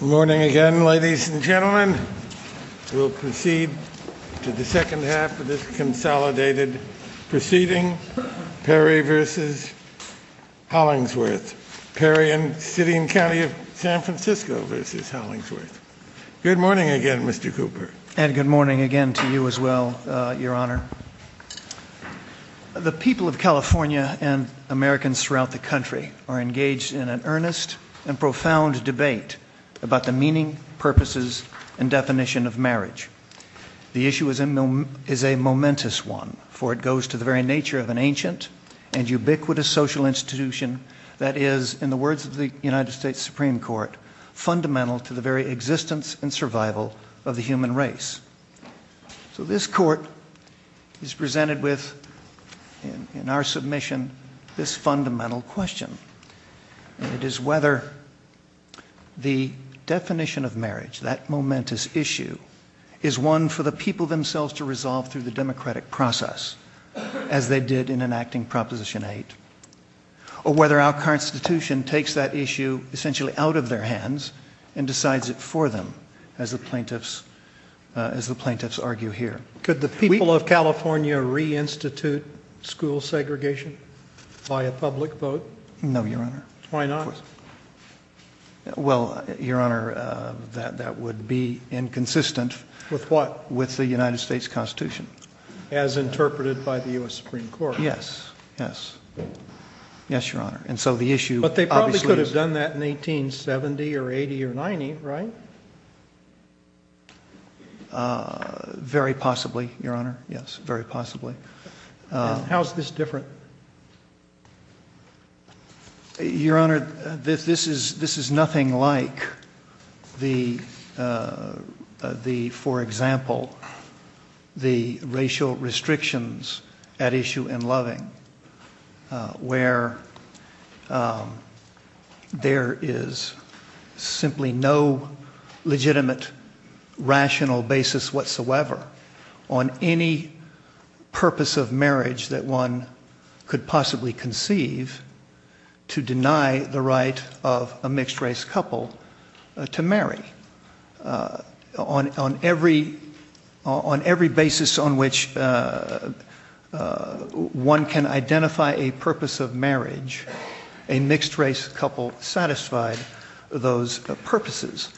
Good morning again, ladies and gentlemen, we'll proceed to the second half of this consolidated proceeding, Perry v. Hollingsworth. Perry and City and County of San Francisco v. Hollingsworth. Good morning again, Mr. Cooper. And good morning again to you as well, Your Honor. The people of California and Americans throughout the country are engaged in an earnest and profound debate about the meaning, purposes, and definition of marriage. The issue is a momentous one, for it goes to the very nature of an ancient and ubiquitous social institution that is, in the words of the United States Supreme Court, fundamental to the very existence and survival of the human race. So this court is presented with, in our submission, this fundamental question. It is whether the definition of marriage, that momentous issue, is one for the people themselves to resolve through the democratic process, as they did in enacting Proposition 8, or whether our Constitution takes that issue essentially out of their hands and decides it for them, as the plaintiffs argue here. Could the people of California reinstitute school segregation by a public vote? No, Your Honor. Why not? Well, Your Honor, that would be inconsistent. With what? With the United States Constitution. As interpreted by the U.S. Supreme Court? Yes, yes. Yes, Your Honor. And so the issue… But they probably could have done that in 1870 or 1880 or 1890, right? Very possibly, Your Honor. Yes, very possibly. How is this different? Your Honor, this is nothing like, for example, the racial restrictions at issue in loving, where there is simply no legitimate, rational basis whatsoever on any purpose of marriage that one could possibly conceive to deny the right of a mixed-race couple to marry. On every basis on which one can identify a purpose of marriage, a mixed-race couple satisfied those purposes.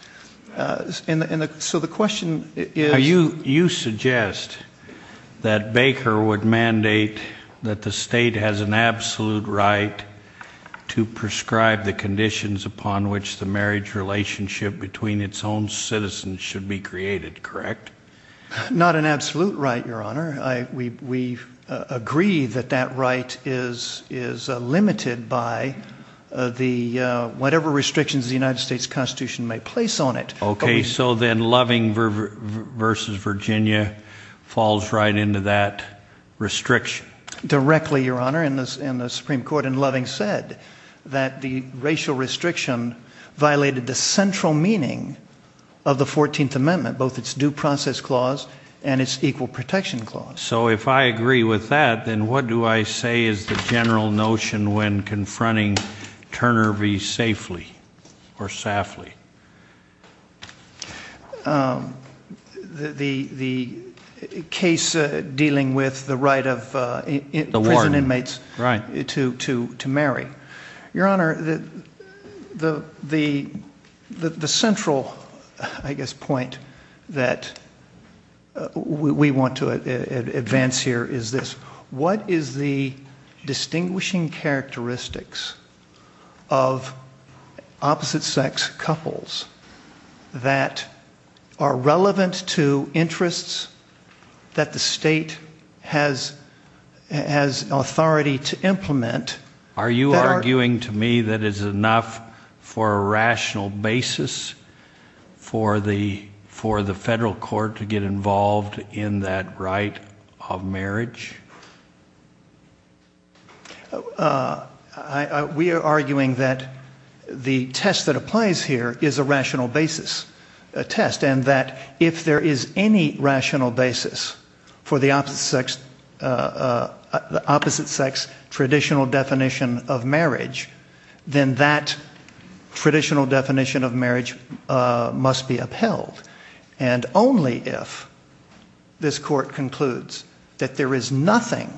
So the question is… You suggest that Baker would mandate that the state has an absolute right to prescribe the conditions upon which the marriage relationship between its own citizens should be created, correct? Not an absolute right, Your Honor. We agree that that right is limited by whatever restrictions the United States Constitution may place on it. Okay, so then loving versus Virginia falls right into that restriction. Directly, Your Honor, in the Supreme Court. And loving said that the racial restriction violated the central meaning of the 14th Amendment, both its due process clause and its equal protection clause. So if I agree with that, then what do I say is the general notion when confronting Turner v. Safely or Safly? The case dealing with the right of prison inmates to marry. Your Honor, the central, I guess, point that we want to advance here is this. What is the distinguishing characteristics of opposite-sex couples that are relevant to interests that the state has authority to implement? Are you arguing to me that it's enough for a rational basis for the federal court to get involved in that right of marriage? We are arguing that the test that applies here is a rational basis, a test, and that if there is any rational basis for the opposite-sex traditional definition of marriage, then that if this Court concludes that there is nothing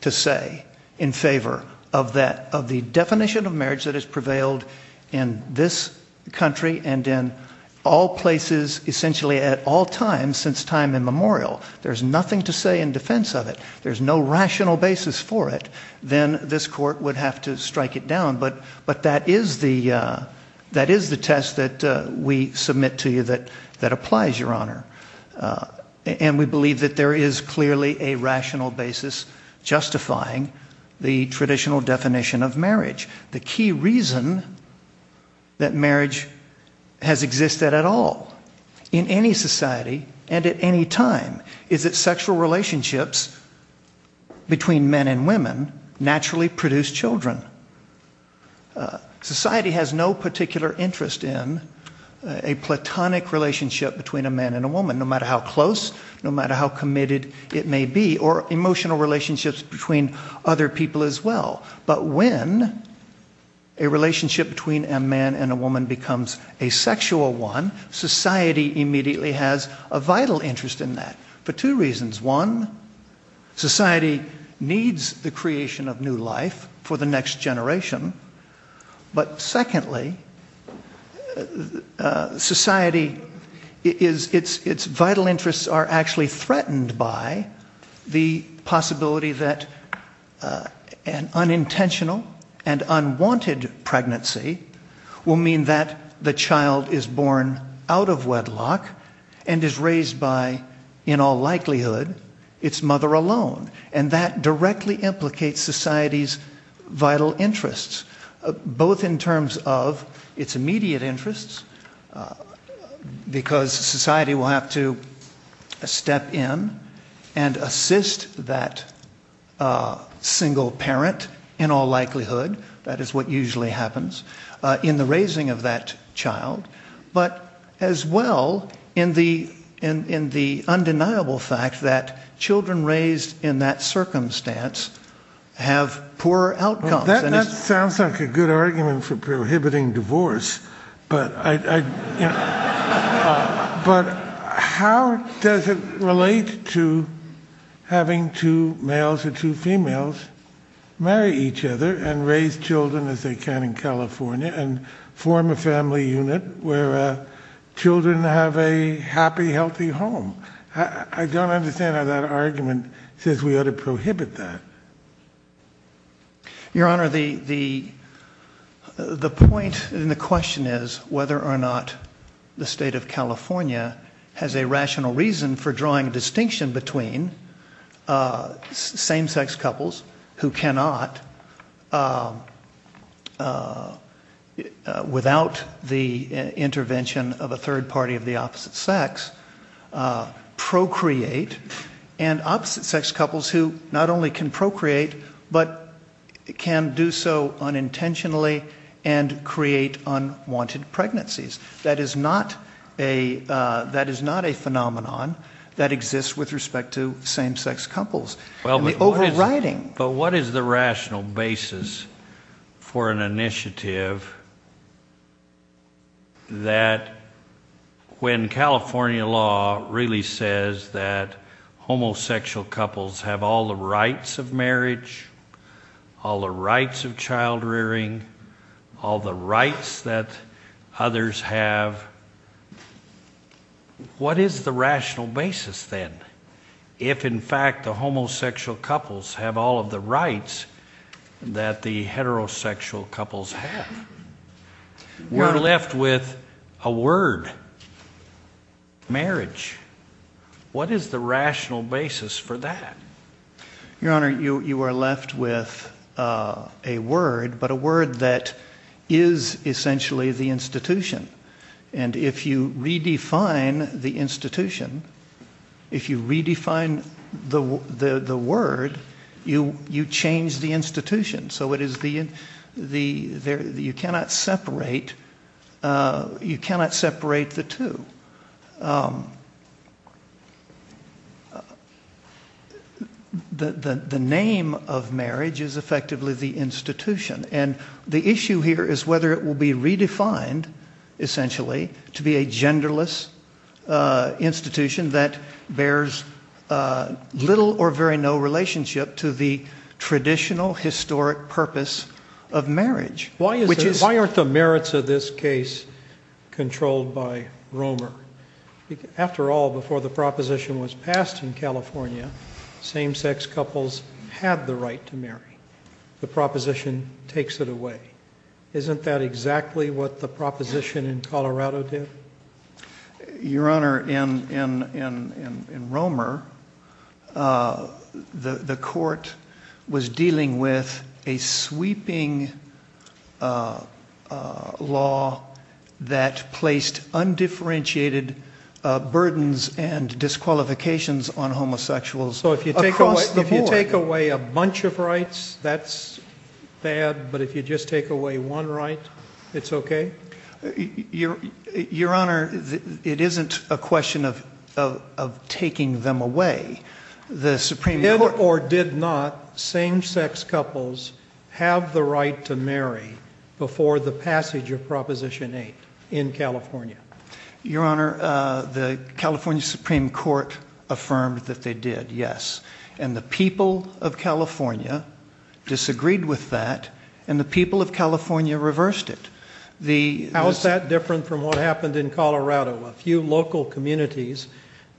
to say in favor of the definition of marriage that has prevailed in this country and in all places, essentially at all times since time immemorial, there's nothing to say in defense of it, there's no rational basis for it, then this Court would have to strike it down. But that is the test that we submit to you that applies, Your Honor. And we believe that there is clearly a rational basis justifying the traditional definition of marriage. The key reason that marriage has existed at all in any society and at any time is that society has no particular interest in a platonic relationship between a man and a woman, no matter how close, no matter how committed it may be, or emotional relationships between other people as well. But when a relationship between a man and a woman becomes a sexual one, society immediately has a vital interest in that for two reasons. One, society needs the creation of new life for the next generation. But secondly, society, its vital interests are actually threatened by the possibility that an unintentional and unwanted pregnancy will mean that the child is born out of wedlock and is raised by, in all likelihood, its mother alone. And that directly implicates society's vital interests, both in terms of its immediate interests, because society will have to step in and assist that single parent, in all likelihood, that is what usually happens, in the raising of that child, but as well in the undeniable fact that children raised in that circumstance have poorer outcomes. That sounds like a good argument for prohibiting divorce, but how does it relate to having two males and two females marry each other and raise children as they can in California and form a family unit where children have a happy, healthy home? I don't understand how that argument says we ought to prohibit that. Your Honor, the point and the question is whether or not the state of California has a rational reason for drawing distinction between same-sex couples who cannot, without the intervention of a third party of the opposite sex, procreate, and opposite-sex couples who not only can procreate, but can do so unintentionally and create unwanted pregnancies. That is not a phenomenon that exists with respect to same-sex couples. But what is the rational basis for an initiative that when California law really says that homosexual couples have all the rights of marriage, all the rights of child-rearing, all the rights that others have, what is the rational basis then if in fact the homosexual couples have all of the rights that the heterosexual couples have? We're left with a word, marriage. What is the rational basis for that? Your Honor, you are left with a word, but a word that is essentially the institution. And if you redefine the institution, if you redefine the word, you change the institution. So you cannot separate the two. The name of marriage is effectively the institution. And the issue here is whether it will be redefined, essentially, to be a genderless institution that bears little or very no relationship to the traditional historic purpose of marriage. Why aren't the merits of this case controlled by Romer? After all, before the proposition was passed in California, same-sex couples had the right to marry. The proposition takes it away. Isn't that exactly what the proposition in Colorado did? Your Honor, in Romer, the court was dealing with a sweeping law that placed undifferentiated burdens and disqualifications on homosexuals across the board. So if you take away a bunch of rights, that's bad, but if you just take away one right, it's okay? Your Honor, it isn't a question of taking them away. Did or did not same-sex couples have the right to marry before the passage of Proposition 8 in California? Your Honor, the California Supreme Court affirmed that they did, yes. And the people of California disagreed with that, and the people of California reversed it. How is that different from what happened in Colorado? A few local communities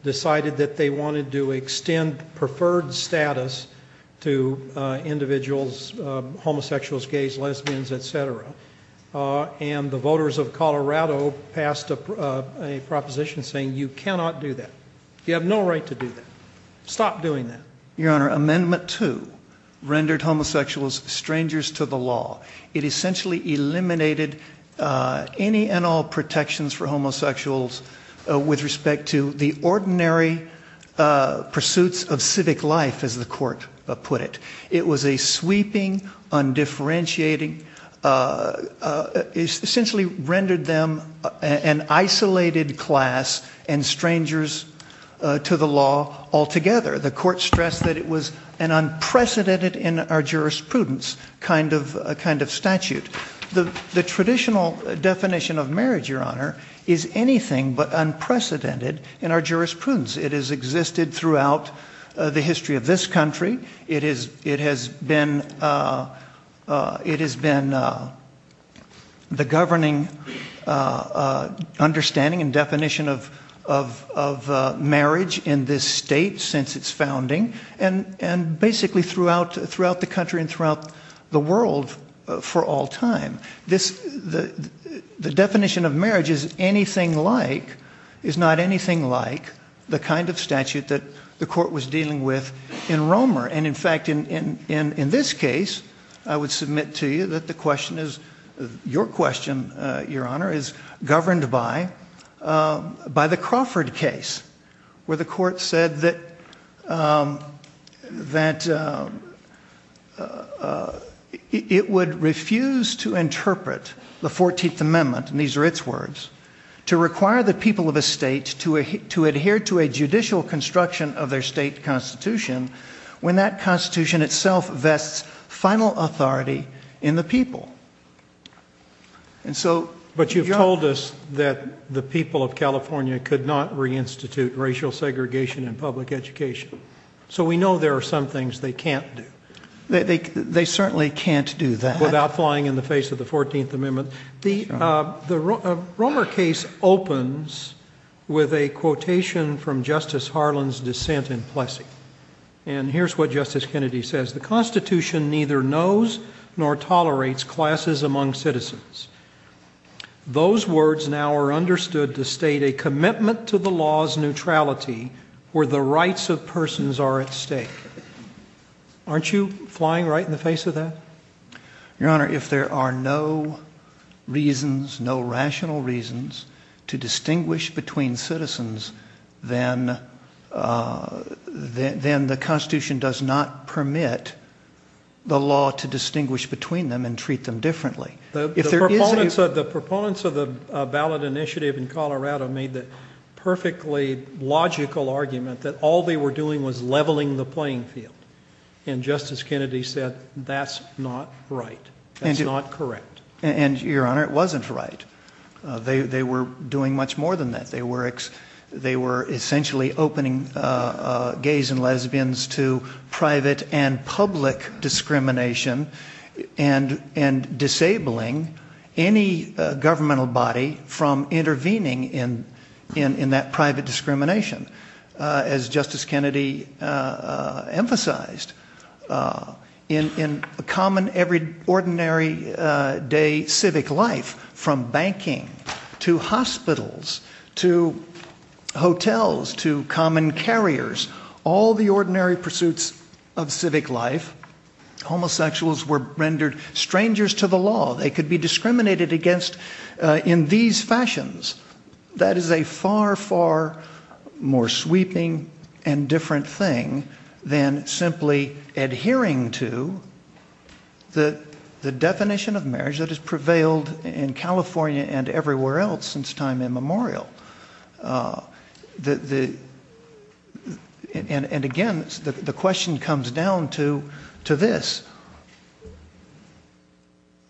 decided that they wanted to extend preferred status to individuals, homosexuals, gays, lesbians, etc. And the voters of Colorado passed a proposition saying you cannot do that. You have no right to do that. Stop doing that. Your Honor, Amendment 2 rendered homosexuals strangers to the law. It essentially eliminated any and all protections for homosexuals with respect to the ordinary pursuits of civic life, as the court put it. It was a sweeping, undifferentiating, essentially rendered them an isolated class and strangers to the law altogether. The court stressed that it was an unprecedented in our jurisprudence kind of statute. The traditional definition of marriage, Your Honor, is anything but unprecedented in our jurisprudence. It has existed throughout the history of this country. It has been the governing understanding and definition of marriage in this state since its founding, and basically throughout the country and throughout the world for all time. The definition of marriage is not anything like the kind of statute that the court was dealing with in Romer. And in fact, in this case, I would submit to you that the question is, your question, Your Honor, is governed by the Crawford case, where the court said that it would refuse to interpret the 14th Amendment, and these are its words, to require the people of a state to adhere to a judicial construction of their state constitution when that constitution itself vests final authority in the people. But you've told us that the people of California could not reinstitute racial segregation in public education. So we know there are some things they can't do. They certainly can't do that. The Romer case opens with a quotation from Justice Harlan's dissent in Plessy. And here's what Justice Kennedy says, The Constitution neither knows nor tolerates classes among citizens. Those words now are understood to state a commitment to the law's neutrality where the rights of persons are at stake. Aren't you flying right in the face of that? Your Honor, if there are no reasons, no rational reasons to distinguish between citizens, then the Constitution does not permit the law to distinguish between them and treat them differently. The proponents of the ballot initiative in Colorado made the perfectly logical argument that all they were doing was leveling the playing field. And Justice Kennedy said that's not right. That's not correct. And, Your Honor, it wasn't right. They were doing much more than that. They were essentially opening gays and lesbians to private and public discrimination and disabling any governmental body from intervening in that private discrimination. As Justice Kennedy emphasized, in common, every ordinary day civic life, from banking to hospitals to hotels to common carriers, all the ordinary pursuits of civic life, homosexuals were rendered strangers to the law. They could be discriminated against in these fashions. That is a far, far more sweeping and different thing than simply adhering to the definition of marriage that has prevailed in California and everywhere else since time immemorial. And, again, the question comes down to this.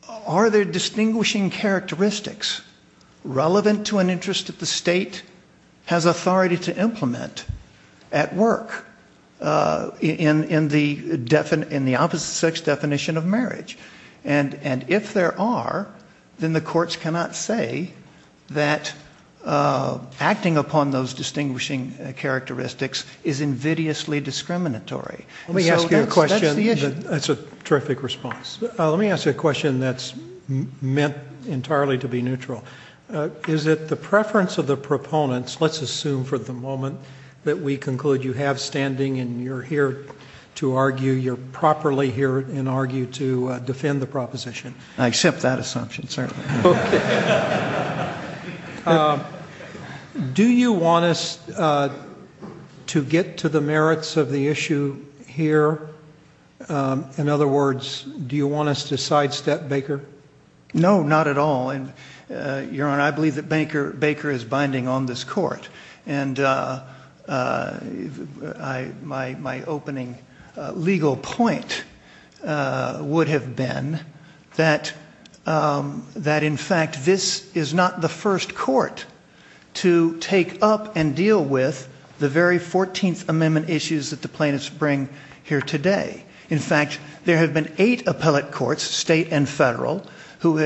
Are there distinguishing characteristics relevant to an interest that the state has authority to implement at work in the opposite sex definition of marriage? And if there are, then the courts cannot say that acting upon those distinguishing characteristics is invidiously discriminatory. Let me ask you a question. That's a terrific response. Let me ask you a question that's meant entirely to be neutral. Is it the preference of the proponents, let's assume for the moment that we conclude you have standing and you're here to argue, you're properly here and argue to defend the proposition? I accept that assumption, certainly. Do you want us to get to the merits of the issue here? In other words, do you want us to sidestep Baker? No, not at all. Your Honor, I believe that Baker is binding on this court. And my opening legal point would have been that, in fact, this is not the first court to take up and deal with the very 14th Amendment issues that the plaintiffs bring here today. In fact, there have been eight appellate courts, state and federal, who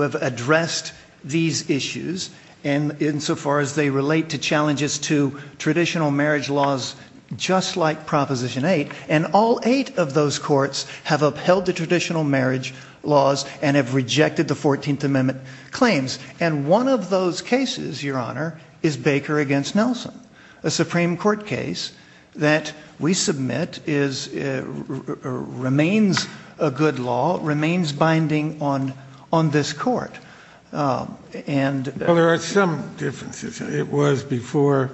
have addressed these issues insofar as they relate to challenges to traditional marriage laws just like Proposition 8. And all eight of those courts have upheld the traditional marriage laws and have rejected the 14th Amendment claims. And one of those cases, Your Honor, is Baker against Nelson. A Supreme Court case that we submit remains a good law, remains binding on this court. Well, there are some differences. It was before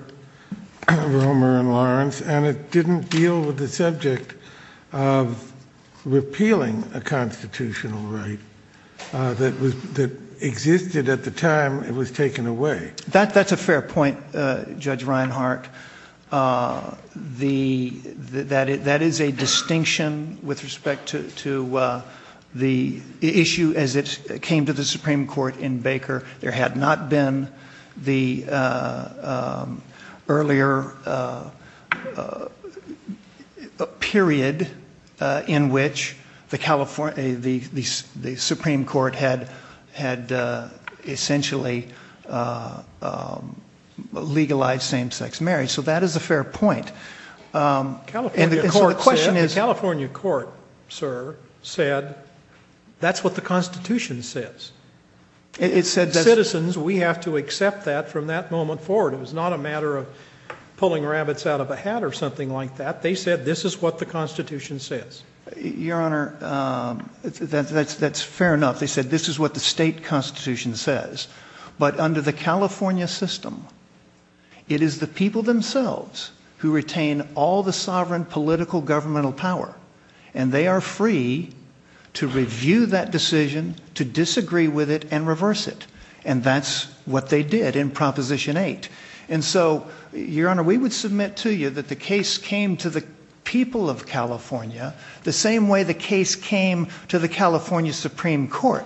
Romer and Lawrence, and it didn't deal with the subject of repealing a constitutional right that existed at the time it was taken away. That's a fair point, Judge Reinhart. That is a distinction with respect to the issue as it came to the Supreme Court in Baker. There had not been the earlier period in which the Supreme Court had essentially legalized same-sex marriage. So that is a fair point. The California court, sir, said that's what the Constitution says. Citizens, we have to accept that from that moment forward. It was not a matter of pulling rabbits out of a hat or something like that. They said this is what the Constitution says. Your Honor, that's fair enough. They said this is what the state Constitution says. But under the California system, it is the people themselves who retain all the sovereign political governmental power. And they are free to review that decision, to disagree with it, and reverse it. And that's what they did in Proposition 8. And so, Your Honor, we would submit to you that the case came to the people of California the same way the case came to the California Supreme Court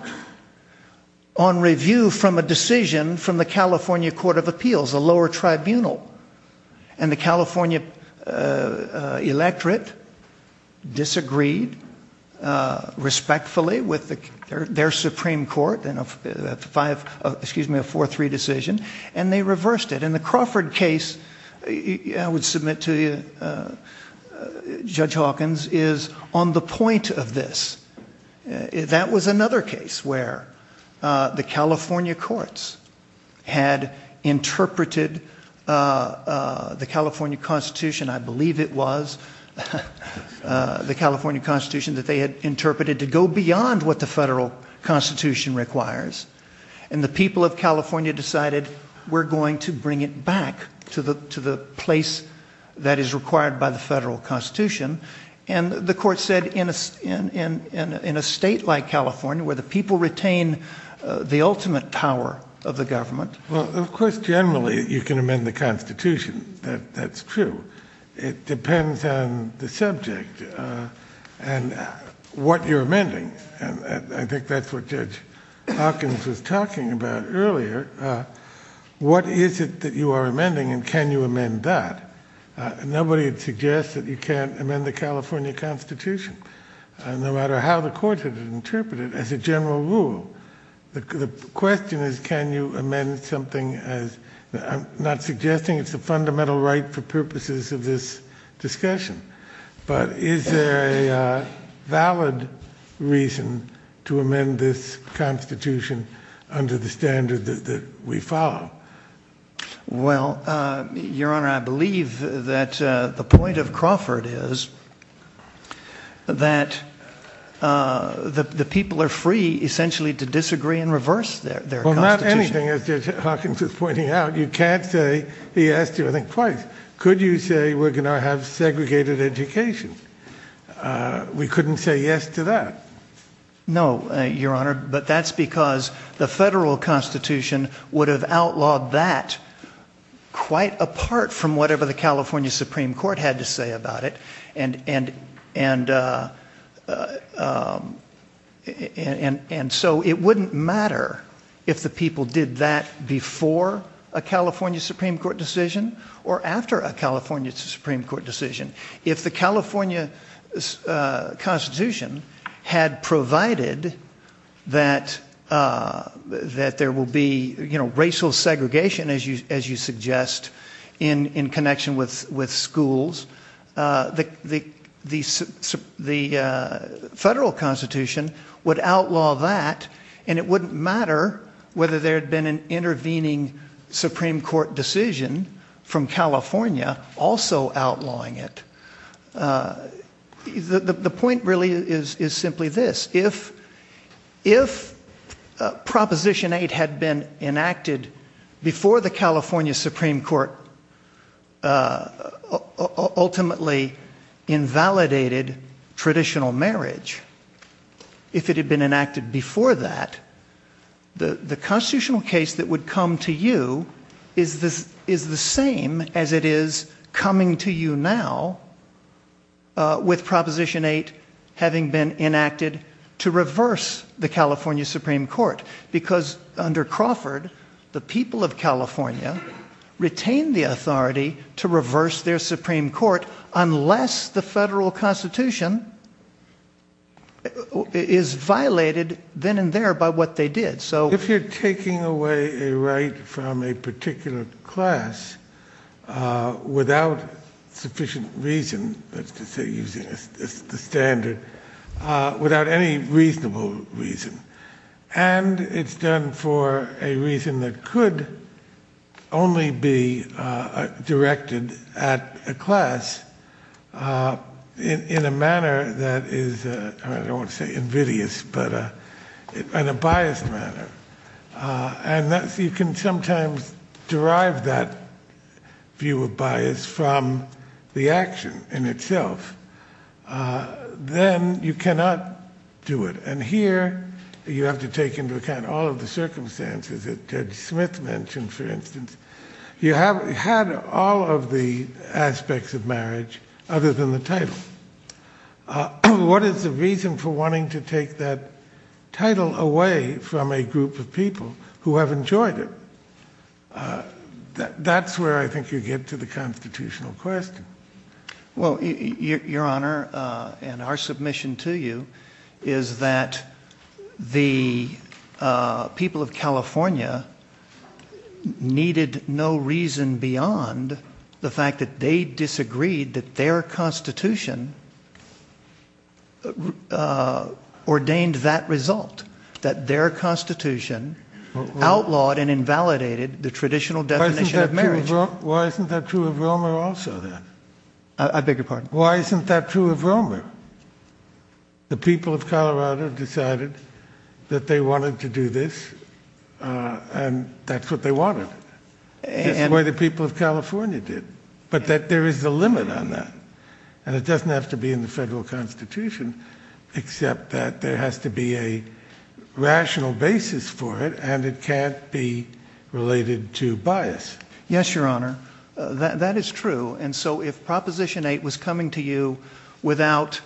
on review from a decision from the California Court of Appeals, a lower tribunal. And the California electorate disagreed respectfully with their Supreme Court in a 4-3 decision, and they reversed it. And the Crawford case, I would submit to you, Judge Hawkins, is on the point of this. That was another case where the California courts had interpreted the California Constitution. I believe it was the California Constitution that they had interpreted to go beyond what the federal Constitution requires. And the people of California decided we're going to bring it back to the place that is required by the federal Constitution. And the court said in a state like California, where the people retain the ultimate power of the government. Well, of course, generally, you can amend the Constitution. That's true. It depends on the subject and what you're amending. And I think that's what Judge Hawkins was talking about earlier. What is it that you are amending, and can you amend that? Nobody suggests that you can't amend the California Constitution, no matter how the courts have interpreted it, as a general rule. The question is, can you amend something as—I'm not suggesting it's a fundamental right for purposes of this discussion. But is there a valid reason to amend this Constitution under the standard that we follow? Well, Your Honor, I believe that the point of Crawford is that the people are free, essentially, to disagree and reverse their Constitution. Well, not anything, as Hawkins was pointing out. You can't say yes to anything, quite. Could you say we're going to have segregated education? We couldn't say yes to that. No, Your Honor, but that's because the federal Constitution would have outlawed that quite apart from whatever the California Supreme Court had to say about it. And so it wouldn't matter if the people did that before a California Supreme Court decision or after a California Supreme Court decision. If the California Constitution had provided that there will be racial segregation, as you suggest, in connection with schools, the federal Constitution would outlaw that. And it wouldn't matter whether there had been an intervening Supreme Court decision from California also outlawing it. The point really is simply this. If Proposition 8 had been enacted before the California Supreme Court ultimately invalidated traditional marriage, if it had been enacted before that, the constitutional case that would come to you is the same as it is coming to you now with Proposition 8 having been enacted to reverse the California Supreme Court. Because under Crawford, the people of California retained the authority to reverse their Supreme Court unless the federal Constitution is violated then and there by what they did. So if you're taking away a right from a particular class without sufficient reason, let's just say using a standard, without any reasonable reason, and it's done for a reason that could only be directed at a class in a manner that is, I don't want to say invidious, but in a biased manner, and you can sometimes derive that view of bias from the action in itself, then you cannot do it. And here you have to take into account all of the circumstances that Ted Smith mentioned, for instance. You have had all of the aspects of marriage other than the title. What is the reason for wanting to take that title away from a group of people who have enjoyed it? That's where I think you get to the constitutional question. Well, Your Honor, and our submission to you is that the people of California needed no reason beyond the fact that they disagreed that their Constitution ordained that result. That their Constitution outlawed and invalidated the traditional definition of marriage. Why isn't that true of Romer also then? I beg your pardon? Why isn't that true of Romer? The people of Colorado decided that they wanted to do this, and that's what they wanted. That's what the people of California did. But that there is a limit on that. And it doesn't have to be in the federal Constitution, except that there has to be a rational basis for it, and it can't be related to bias. Yes, Your Honor. That is true. And so if Proposition 8 was coming to you without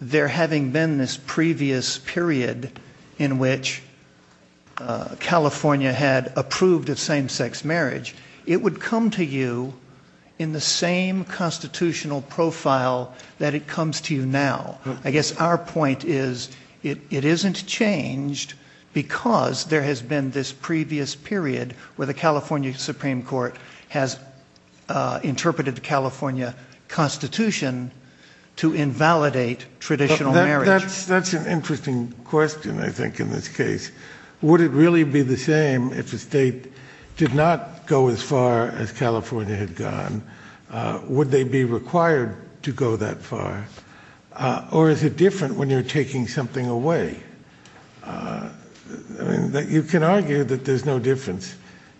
there having been this previous period in which California had approved of same-sex marriage, it would come to you in the same constitutional profile that it comes to you now. I guess our point is it isn't changed because there has been this previous period where the California Supreme Court has interpreted the California Constitution to invalidate traditional marriage. That's an interesting question, I think, in this case. Would it really be the same if the state did not go as far as California had gone? Would they be required to go that far? Or is it different when you're taking something away? You can argue that there's no difference,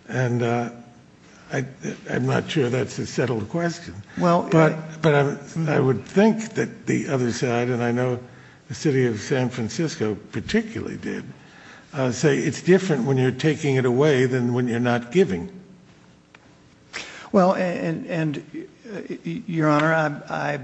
and I'm not sure that's a settled question. But I would think that the other side, and I know the city of San Francisco particularly did, say it's different when you're taking it away than when you're not giving. Well, Your Honor, I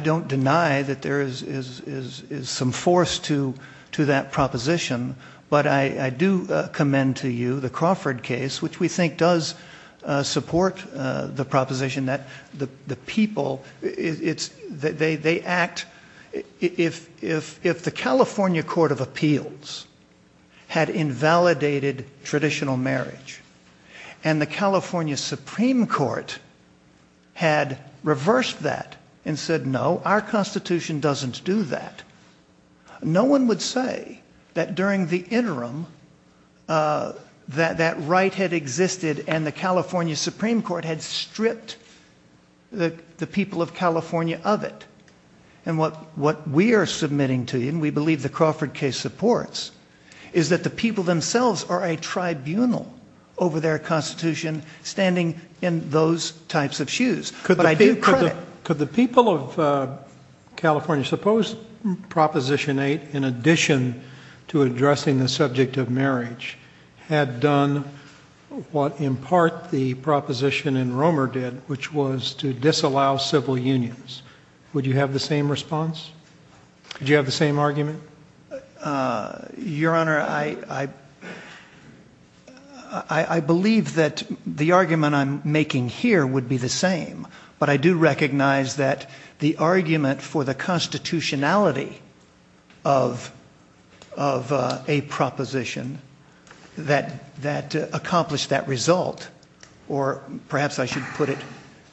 don't deny that there is some force to that proposition, but I do commend to you the Crawford case, which we think does support the proposition that the people, they act, if the California Court of Appeals had invalidated traditional marriage and the California Supreme Court had reversed that and said, no, our Constitution doesn't do that, no one would say that during the interim that that right had existed and the California Supreme Court had stripped the people of California of it. And what we are submitting to you, and we believe the Crawford case supports, is that the people themselves are a tribunal over their Constitution, standing in those types of shoes. Could the people of California suppose Proposition 8, in addition to addressing the subject of marriage, had done what in part the proposition in Romer did, which was to disallow civil unions? Would you have the same response? Would you have the same argument? Your Honor, I believe that the argument I'm making here would be the same, but I do recognize that the argument for the constitutionality of a proposition that accomplished that result, or perhaps I should put it,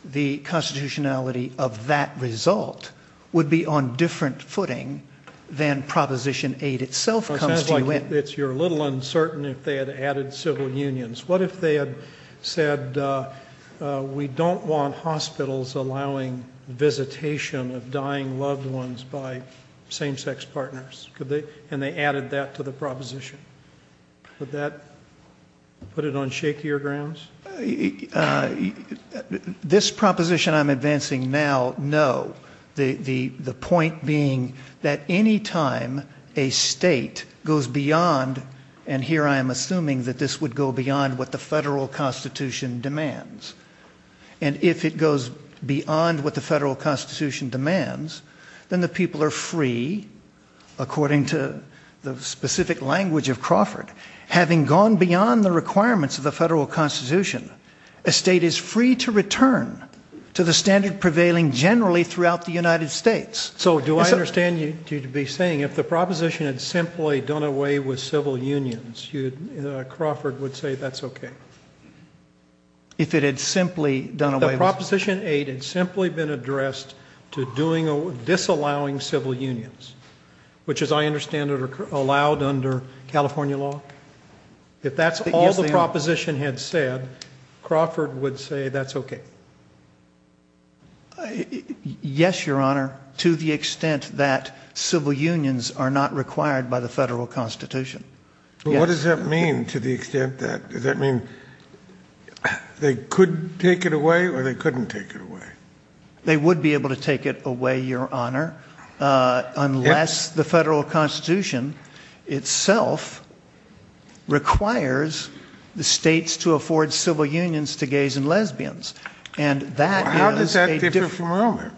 the constitutionality of that result, would be on different footing than Proposition 8 itself comes to you in. It sounds like you're a little uncertain if they had added civil unions. What if they had said, we don't want hospitals allowing visitation of dying loved ones by same-sex partners, and they added that to the proposition? Would that put it on shakier grounds? This proposition I'm advancing now, no. The point being that any time a state goes beyond, and here I'm assuming that this would go beyond what the federal constitution demands, and if it goes beyond what the federal constitution demands, then the people are free, according to the specific language of Crawford. Having gone beyond the requirements of the federal constitution, a state is free to return to the standard prevailing generally throughout the United States. So do I understand you to be saying, if the proposition had simply done away with civil unions, Crawford would say that's okay? If it had simply done away with... If the Proposition 8 had simply been addressed to disallowing civil unions, which as I understand it are allowed under California law, if that's all the proposition had said, Crawford would say that's okay? Yes, Your Honor, to the extent that civil unions are not required by the federal constitution. What does that mean, to the extent that they could take it away or they couldn't take it away? They would be able to take it away, Your Honor, unless the federal constitution itself requires the states to afford civil unions to gays and lesbians. How does that differ from Romer?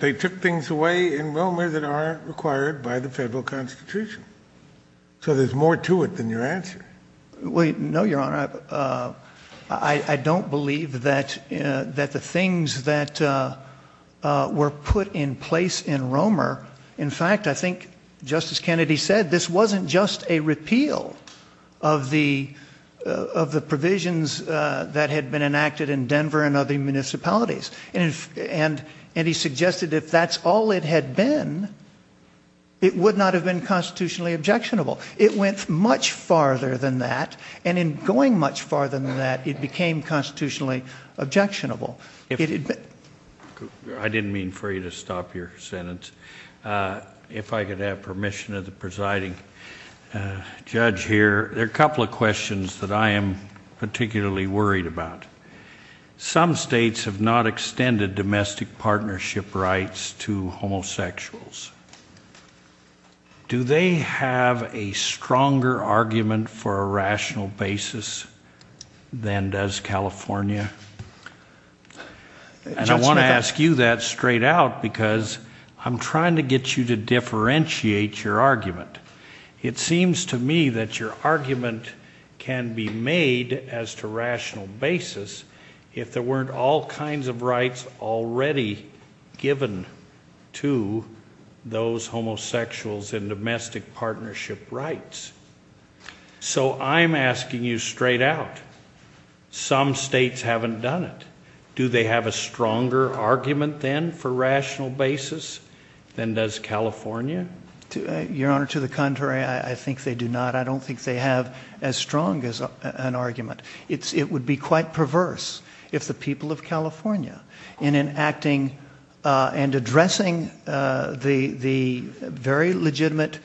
They took things away in Romer that are required by the federal constitution. So there's more to it than your answer. No, Your Honor, I don't believe that the things that were put in place in Romer... In fact, I think Justice Kennedy said this wasn't just a repeal of the provisions that had been enacted in Denver and other municipalities. And he suggested if that's all it had been, it would not have been constitutionally objectionable. It went much farther than that, and in going much farther than that, it became constitutionally objectionable. I didn't mean for you to stop your sentence. If I could have permission of the presiding judge here, there are a couple of questions that I am particularly worried about. Some states have not extended domestic partnership rights to homosexuals. Do they have a stronger argument for a rational basis than does California? And I want to ask you that straight out, because I'm trying to get you to differentiate your argument. It seems to me that your argument can be made as to rational basis if there weren't all kinds of rights already given to those homosexuals in domestic partnership rights. So I'm asking you straight out, some states haven't done it. Do they have a stronger argument then for rational basis than does California? Your Honor, to the contrary, I think they do not. I don't think they have as strong an argument. It would be quite perverse if the people of California, in enacting and addressing the very legitimate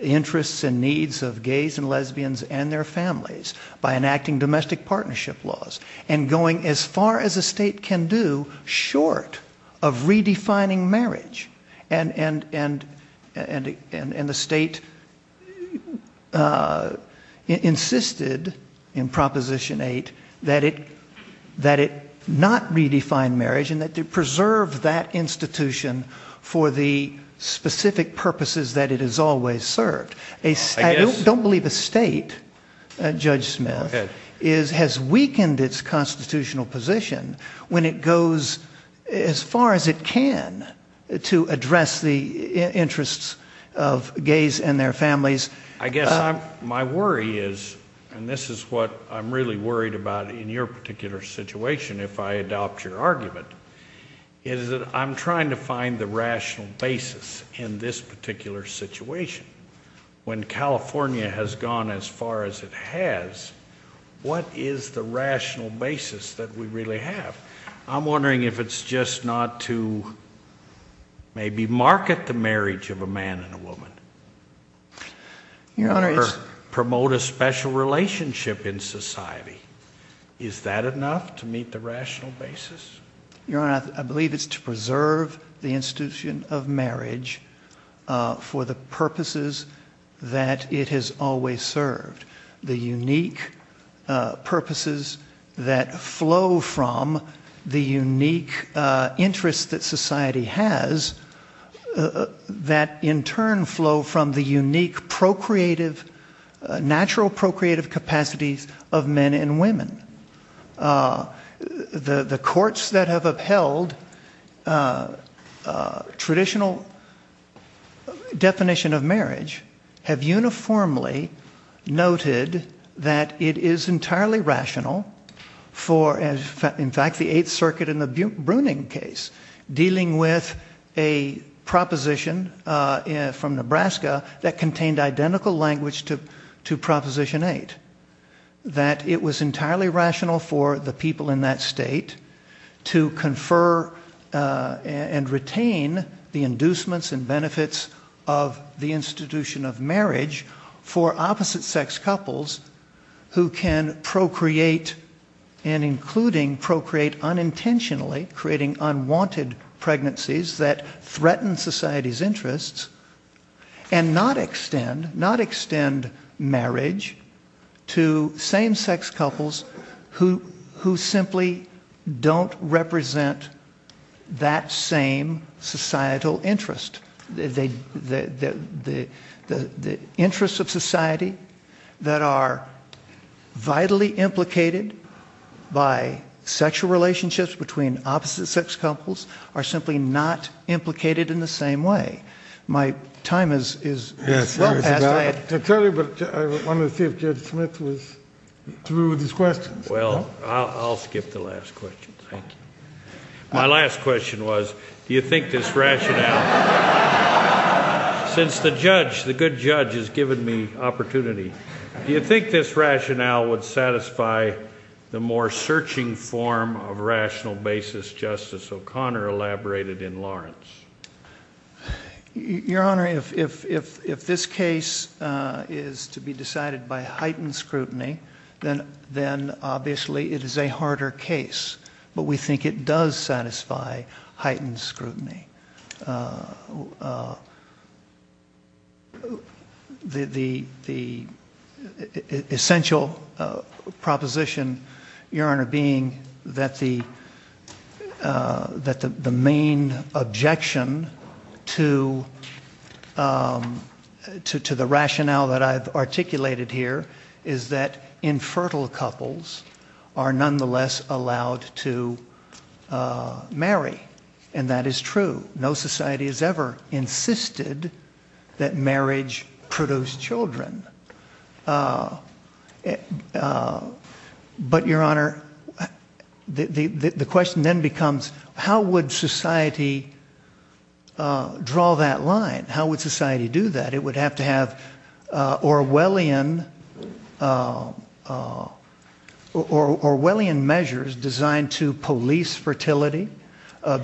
interests and needs of gays and lesbians and their families, by enacting domestic partnership laws and going as far as a state can do short of redefining marriage. And the state insisted in Proposition 8 that it not redefine marriage and that it preserve that institution for the specific purposes that it has always served. I don't believe a state, Judge Smith, has weakened its constitutional position when it goes as far as it can to address the interests of gays and their families. I guess my worry is, and this is what I'm really worried about in your particular situation if I adopt your argument, is that I'm trying to find the rational basis in this particular situation. When California has gone as far as it has, what is the rational basis that we really have? I'm wondering if it's just not to maybe market the marriage of a man and a woman or promote a special relationship in society. Is that enough to meet the rational basis? Your Honor, I believe it's to preserve the institution of marriage for the purposes that it has always served. The unique purposes that flow from the unique interests that society has that in turn flow from the unique procreative, natural procreative capacity of men and women. The courts that have upheld traditional definition of marriage have uniformly noted that it is entirely rational for, in fact, the Eighth Circuit in the Bruning case dealing with a proposition from Nebraska that contained identical language to Proposition 8. That it was entirely rational for the people in that state to confer and retain the inducements and benefits of the institution of marriage for opposite-sex couples who can procreate, and including procreate unintentionally, creating unwanted pregnancies that threaten society's interests, and not extend marriage to same-sex couples who simply don't represent that same societal interest. The interests of society that are vitally implicated by sexual relationships between opposite-sex couples are simply not implicated in the same way. My time is up. I want to see if Judge Smith is through with his questions. Well, I'll skip the last question. Thank you. My last question was, do you think this rationale... Since the judge, the good judge, has given me opportunity, do you think this rationale would satisfy the more searching form of rational basis Justice O'Connor elaborated in Lawrence? Your Honor, if this case is to be decided by heightened scrutiny, then obviously it is a harder case. But we think it does satisfy heightened scrutiny. The essential proposition, Your Honor, being that the main objection to the rationale that I've articulated here is that infertile couples are nonetheless allowed to marry, and that is true. No society has ever insisted that marriage produce children. But, Your Honor, the question then becomes, how would society draw that line? How would society do that? Orwellian measures designed to police fertility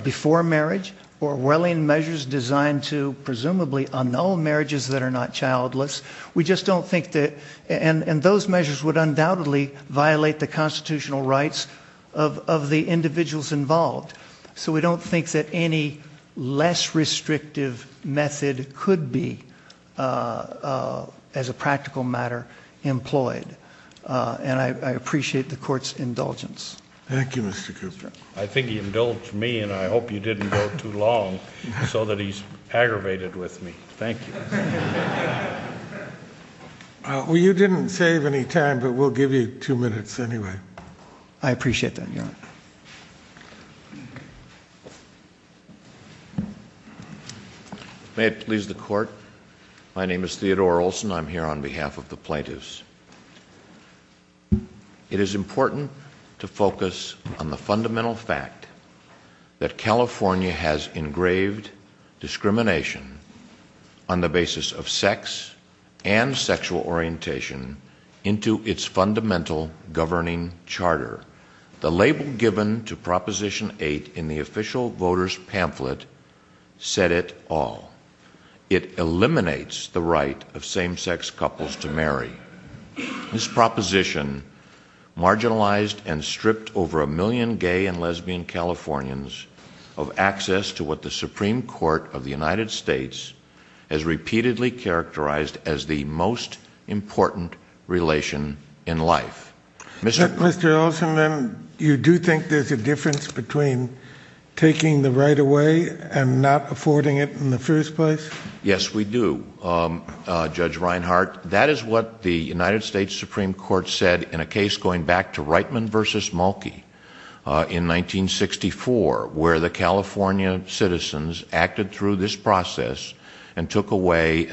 before marriage, Orwellian measures designed to presumably annul marriages that are not childless. We just don't think that... And those measures would undoubtedly violate the constitutional rights of the individuals involved. So we don't think that any less restrictive method could be, as a practical matter, employed. And I appreciate the Court's indulgence. Thank you, Mr. Kupfer. I think he indulged me, and I hope you didn't go too long so that he's aggravated with me. Thank you. Well, you didn't save any time, but we'll give you two minutes anyway. I appreciate that, Your Honor. May it please the Court. My name is Theodore Olson. I'm here on behalf of the plaintiffs. It is important to focus on the fundamental fact that California has engraved discrimination on the basis of sex and sexual orientation into its fundamental governing charter. The label given to Proposition 8 in the official voters' pamphlet said it all. It eliminates the right of same-sex couples to marry. This proposition marginalized and stripped over a million gay and lesbian Californians of access to what the Supreme Court of the United States has repeatedly characterized as the most important relation in life. Mr. Olson, you do think there's a difference between taking the right away and not affording it in the first place? Yes, we do, Judge Reinhart. That is what the United States Supreme Court said in a case going back to Reitman v. Mulkey in 1964, where the California citizens acted through this process and took away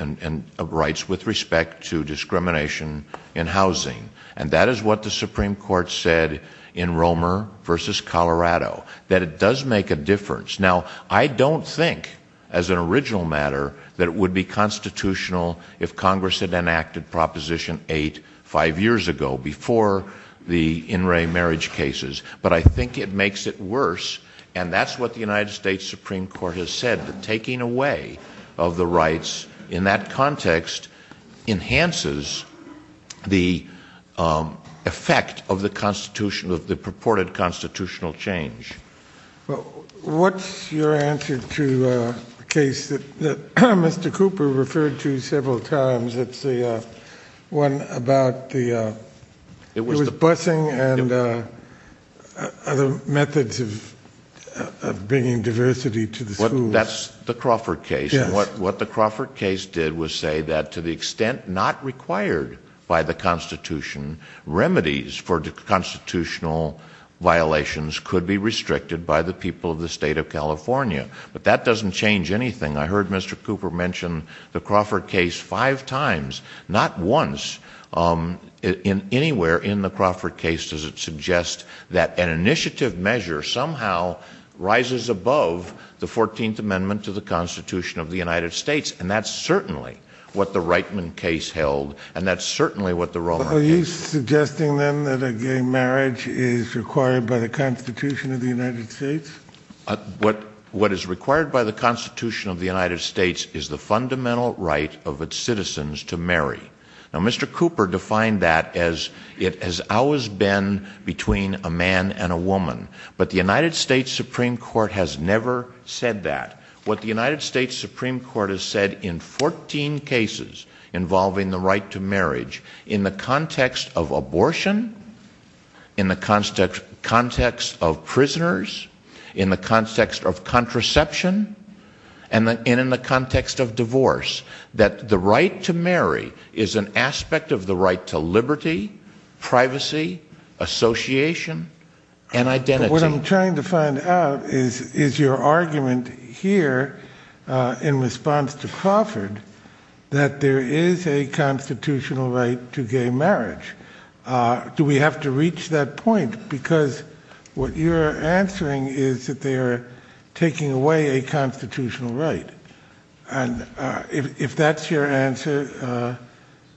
rights with respect to discrimination in housing. And that is what the Supreme Court said in Romer v. Colorado, that it does make a difference. Now, I don't think, as an original matter, that it would be constitutional if Congress had enacted Proposition 8 five years ago, before the in-ray marriage cases. But I think it makes it worse, and that's what the United States Supreme Court has said, that taking away of the rights in that context enhances the effect of the purported constitutional change. What's your answer to a case that Mr. Cooper referred to several times, the one about busing and other methods of bringing diversity to the school? That's the Crawford case, and what the Crawford case did was say that to the extent not required by the Constitution, remedies for constitutional violations could be restricted by the people of the state of California. But that doesn't change anything. I heard Mr. Cooper mention the Crawford case five times, not once anywhere in the Crawford case does it suggest that an initiative measure somehow rises above the 14th Amendment to the Constitution of the United States. And that's certainly what the Reitman case held, and that's certainly what the Romer case held. Are you suggesting, then, that a gay marriage is required by the Constitution of the United States? What is required by the Constitution of the United States is the fundamental right of its citizens to marry. Now, Mr. Cooper defined that as it has always been between a man and a woman, but the United States Supreme Court has never said that. What the United States Supreme Court has said in 14 cases involving the right to marriage in the context of abortion, in the context of prisoners, in the context of contraception, and in the context of divorce, that the right to marry is an aspect of the right to liberty, privacy, association, and identity. What I'm trying to find out is your argument here in response to Crawford that there is a constitutional right to gay marriage. Do we have to reach that point? Because what you're answering is that they're taking away a constitutional right. And if that's your answer,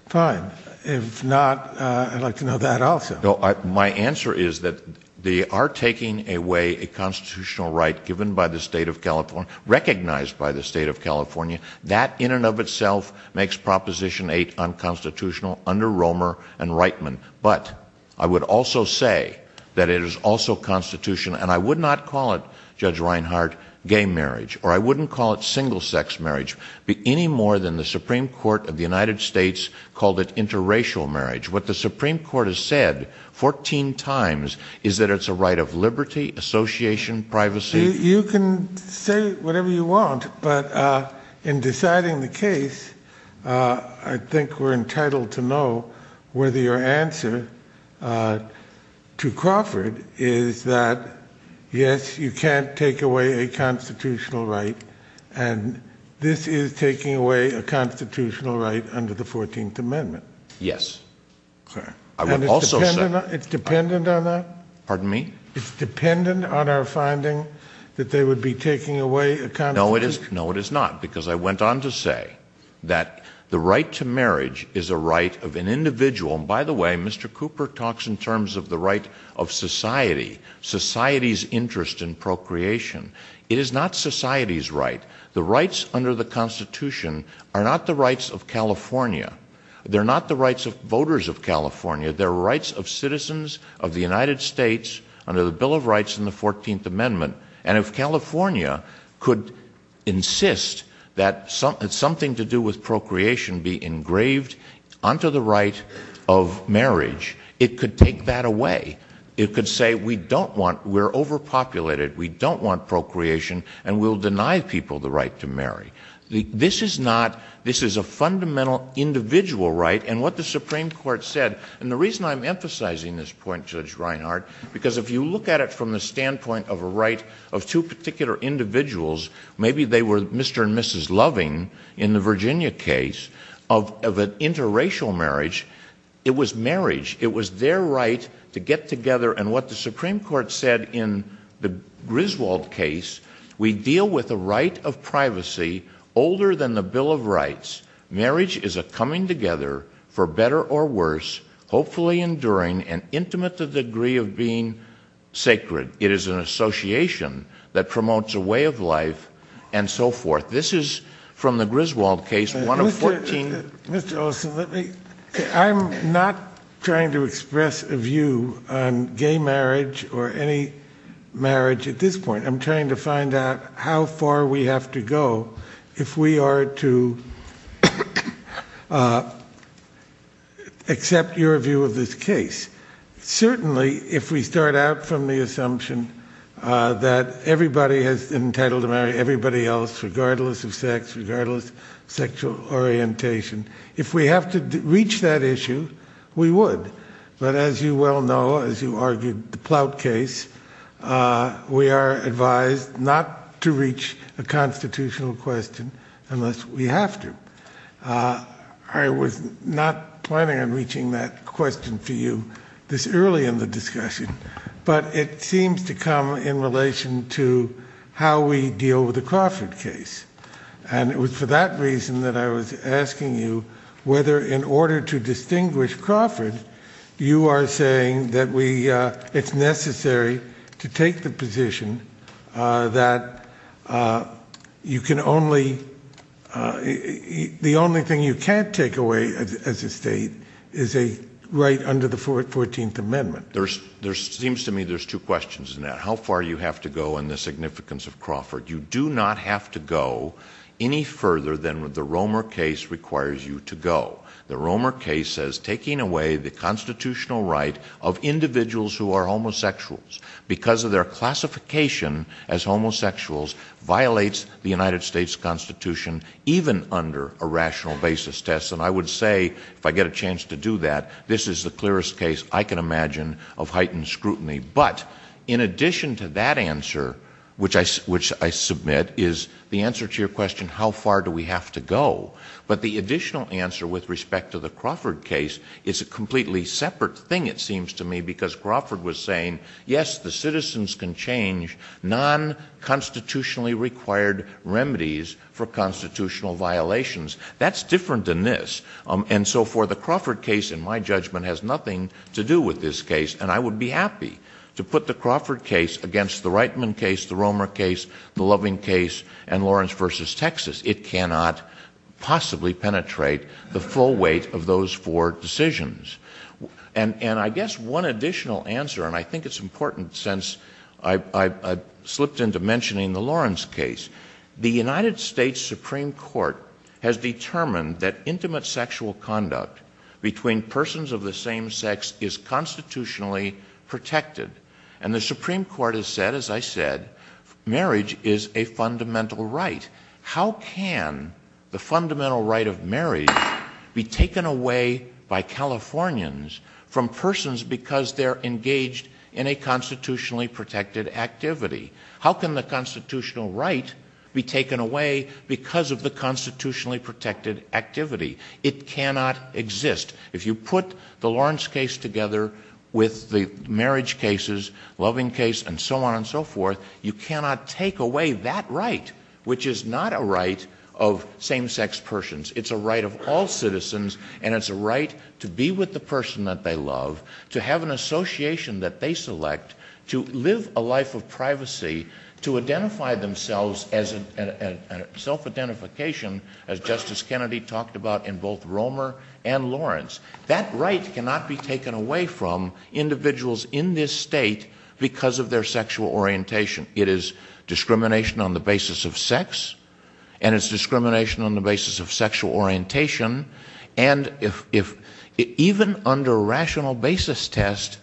fine. If not, I'd like to know that also. My answer is that they are taking away a constitutional right given by the state of California, recognized by the state of California. That in and of itself makes Proposition 8 unconstitutional under Romer and Reitman. But I would also say that it is also constitutional, and I would not call it, Judge Reinhardt, gay marriage. Or I wouldn't call it single-sex marriage any more than the Supreme Court of the United States called it interracial marriage. What the Supreme Court has said 14 times is that it's a right of liberty, association, privacy. You can say whatever you want, but in deciding the case, I think we're entitled to know whether your answer to Crawford is that, yes, you can't take away a constitutional right, and this is taking away a constitutional right under the 14th Amendment. And it's dependent on our finding that they would be taking away accountability? No, it is not, because I went on to say that the right to marriage is a right of an individual. And by the way, Mr. Cooper talks in terms of the right of society, society's interest in procreation. It is not society's right. The rights under the Constitution are not the rights of California. They're not the rights of voters of California. They're rights of citizens of the United States under the Bill of Rights and the 14th Amendment. And if California could insist that something to do with procreation be engraved onto the right of marriage, it could take that away. It could say, we don't want, we're overpopulated, we don't want procreation, and we'll deny people the right to marry. This is not, this is a fundamental individual right, and what the Supreme Court said, and the reason I'm emphasizing this point, Judge Reinhart, because if you look at it from the standpoint of a right of two particular individuals, maybe they were Mr. and Mrs. Loving in the Virginia case, of an interracial marriage, it was marriage, it was their right to get together, and what the Supreme Court said in the Griswold case, we deal with a right of privacy older than the Bill of Rights. Marriage is a coming together, for better or worse, hopefully enduring and intimate to the degree of being sacred. It is an association that promotes a way of life, and so forth. This is from the Griswold case, one of 14. Mr. Olson, I'm not trying to express a view on gay marriage, or any marriage at this point. I'm trying to find out how far we have to go if we are to accept your view of this case. Certainly, if we start out from the assumption that everybody is entitled to marry everybody else, regardless of sex, regardless of sexual orientation, if we have to reach that issue, we would, but as you well know, as you argued, the Ploutt case, we are advised not to reach a constitutional question unless we have to. I was not planning on reaching that question to you this early in the discussion, but it seems to come in relation to how we deal with the Crawford case, and it was for that reason that I was asking you whether, in order to distinguish Crawford, you are saying that it's necessary to take the position that the only thing you can't take away as a state is a right under the 14th Amendment. There seems to me there's two questions in that. How far you have to go and the significance of Crawford. You do not have to go any further than what the Romer case requires you to go. The Romer case says taking away the constitutional right of individuals who are homosexuals because of their classification as homosexuals violates the United States Constitution, even under a rational basis test. And I would say, if I get a chance to do that, this is the clearest case I can imagine of heightened scrutiny. But, in addition to that answer, which I submit, is the answer to your question, how far do we have to go, but the additional answer with respect to the Crawford case is a completely separate thing, it seems to me, because Crawford was saying, yes, the citizens can change non-constitutionally required remedies for constitutional violations. That's different than this. And so, for the Crawford case, in my judgment, has nothing to do with this case, and I would be happy to put the Crawford case against the Reitman case, the Romer case, the Loving case, and Lawrence v. Texas. It cannot possibly penetrate the full weight of those four decisions. And I guess one additional answer, and I think it's important since I slipped into mentioning the Lawrence case, the United States Supreme Court has determined that intimate sexual conduct between persons of the same sex is constitutionally protected. And the Supreme Court has said, as I said, marriage is a fundamental right. How can the fundamental right of marriage be taken away by Californians from persons because they're engaged in a constitutionally protected activity? How can the constitutional right be taken away because of the constitutionally protected activity? It cannot exist. If you put the Lawrence case together with the marriage cases, Loving case, and so on and so forth, you cannot take away that right, which is not a right of same-sex persons. It's a right of all citizens, and it's a right to be with the person that they love, to have an association that they select, to live a life of privacy, to identify themselves as self-identification, as Justice Kennedy talked about in both Romer and Lawrence. That right cannot be taken away from individuals in this state because of their sexual orientation. It is discrimination on the basis of sex, and it's discrimination on the basis of sexual orientation, and even under a rational basis test,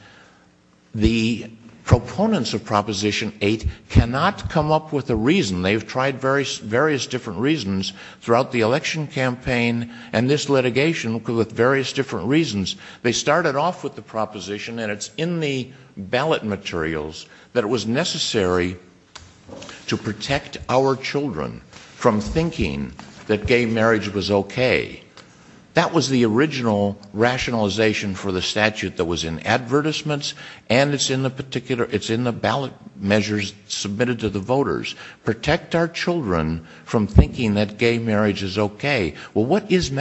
the proponents of Proposition 8 cannot come up with a reason. They've tried various different reasons throughout the election campaign and this litigation, with various different reasons. They started off with the proposition, and it's in the ballot materials, that it was necessary to protect our children from thinking that gay marriage was okay. That was the original rationalization for the statute that was in advertisements, and it's in the ballot measures submitted to the voters. Protect our children from thinking that gay marriage is okay. Well, what is the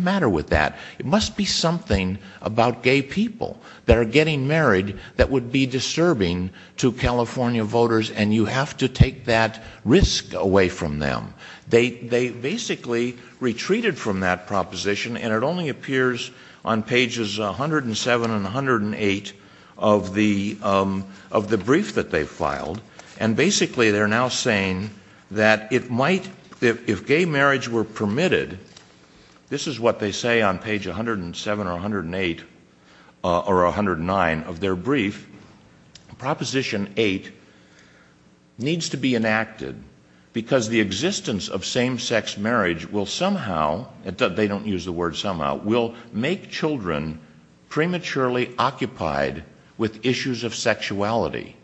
matter with that? It must be something about gay people that are getting married that would be disturbing to California voters, and you have to take that risk away from them. They basically retreated from that proposition, and it only appears on pages 107 and 108 of the brief that they filed, and basically they're now saying that if gay marriage were permitted, this is what they say on page 107 or 108 or 109 of their brief, Proposition 8 needs to be enacted because the existence of same-sex marriage will somehow, they don't use the word somehow, will make children prematurely occupied with issues of sexuality.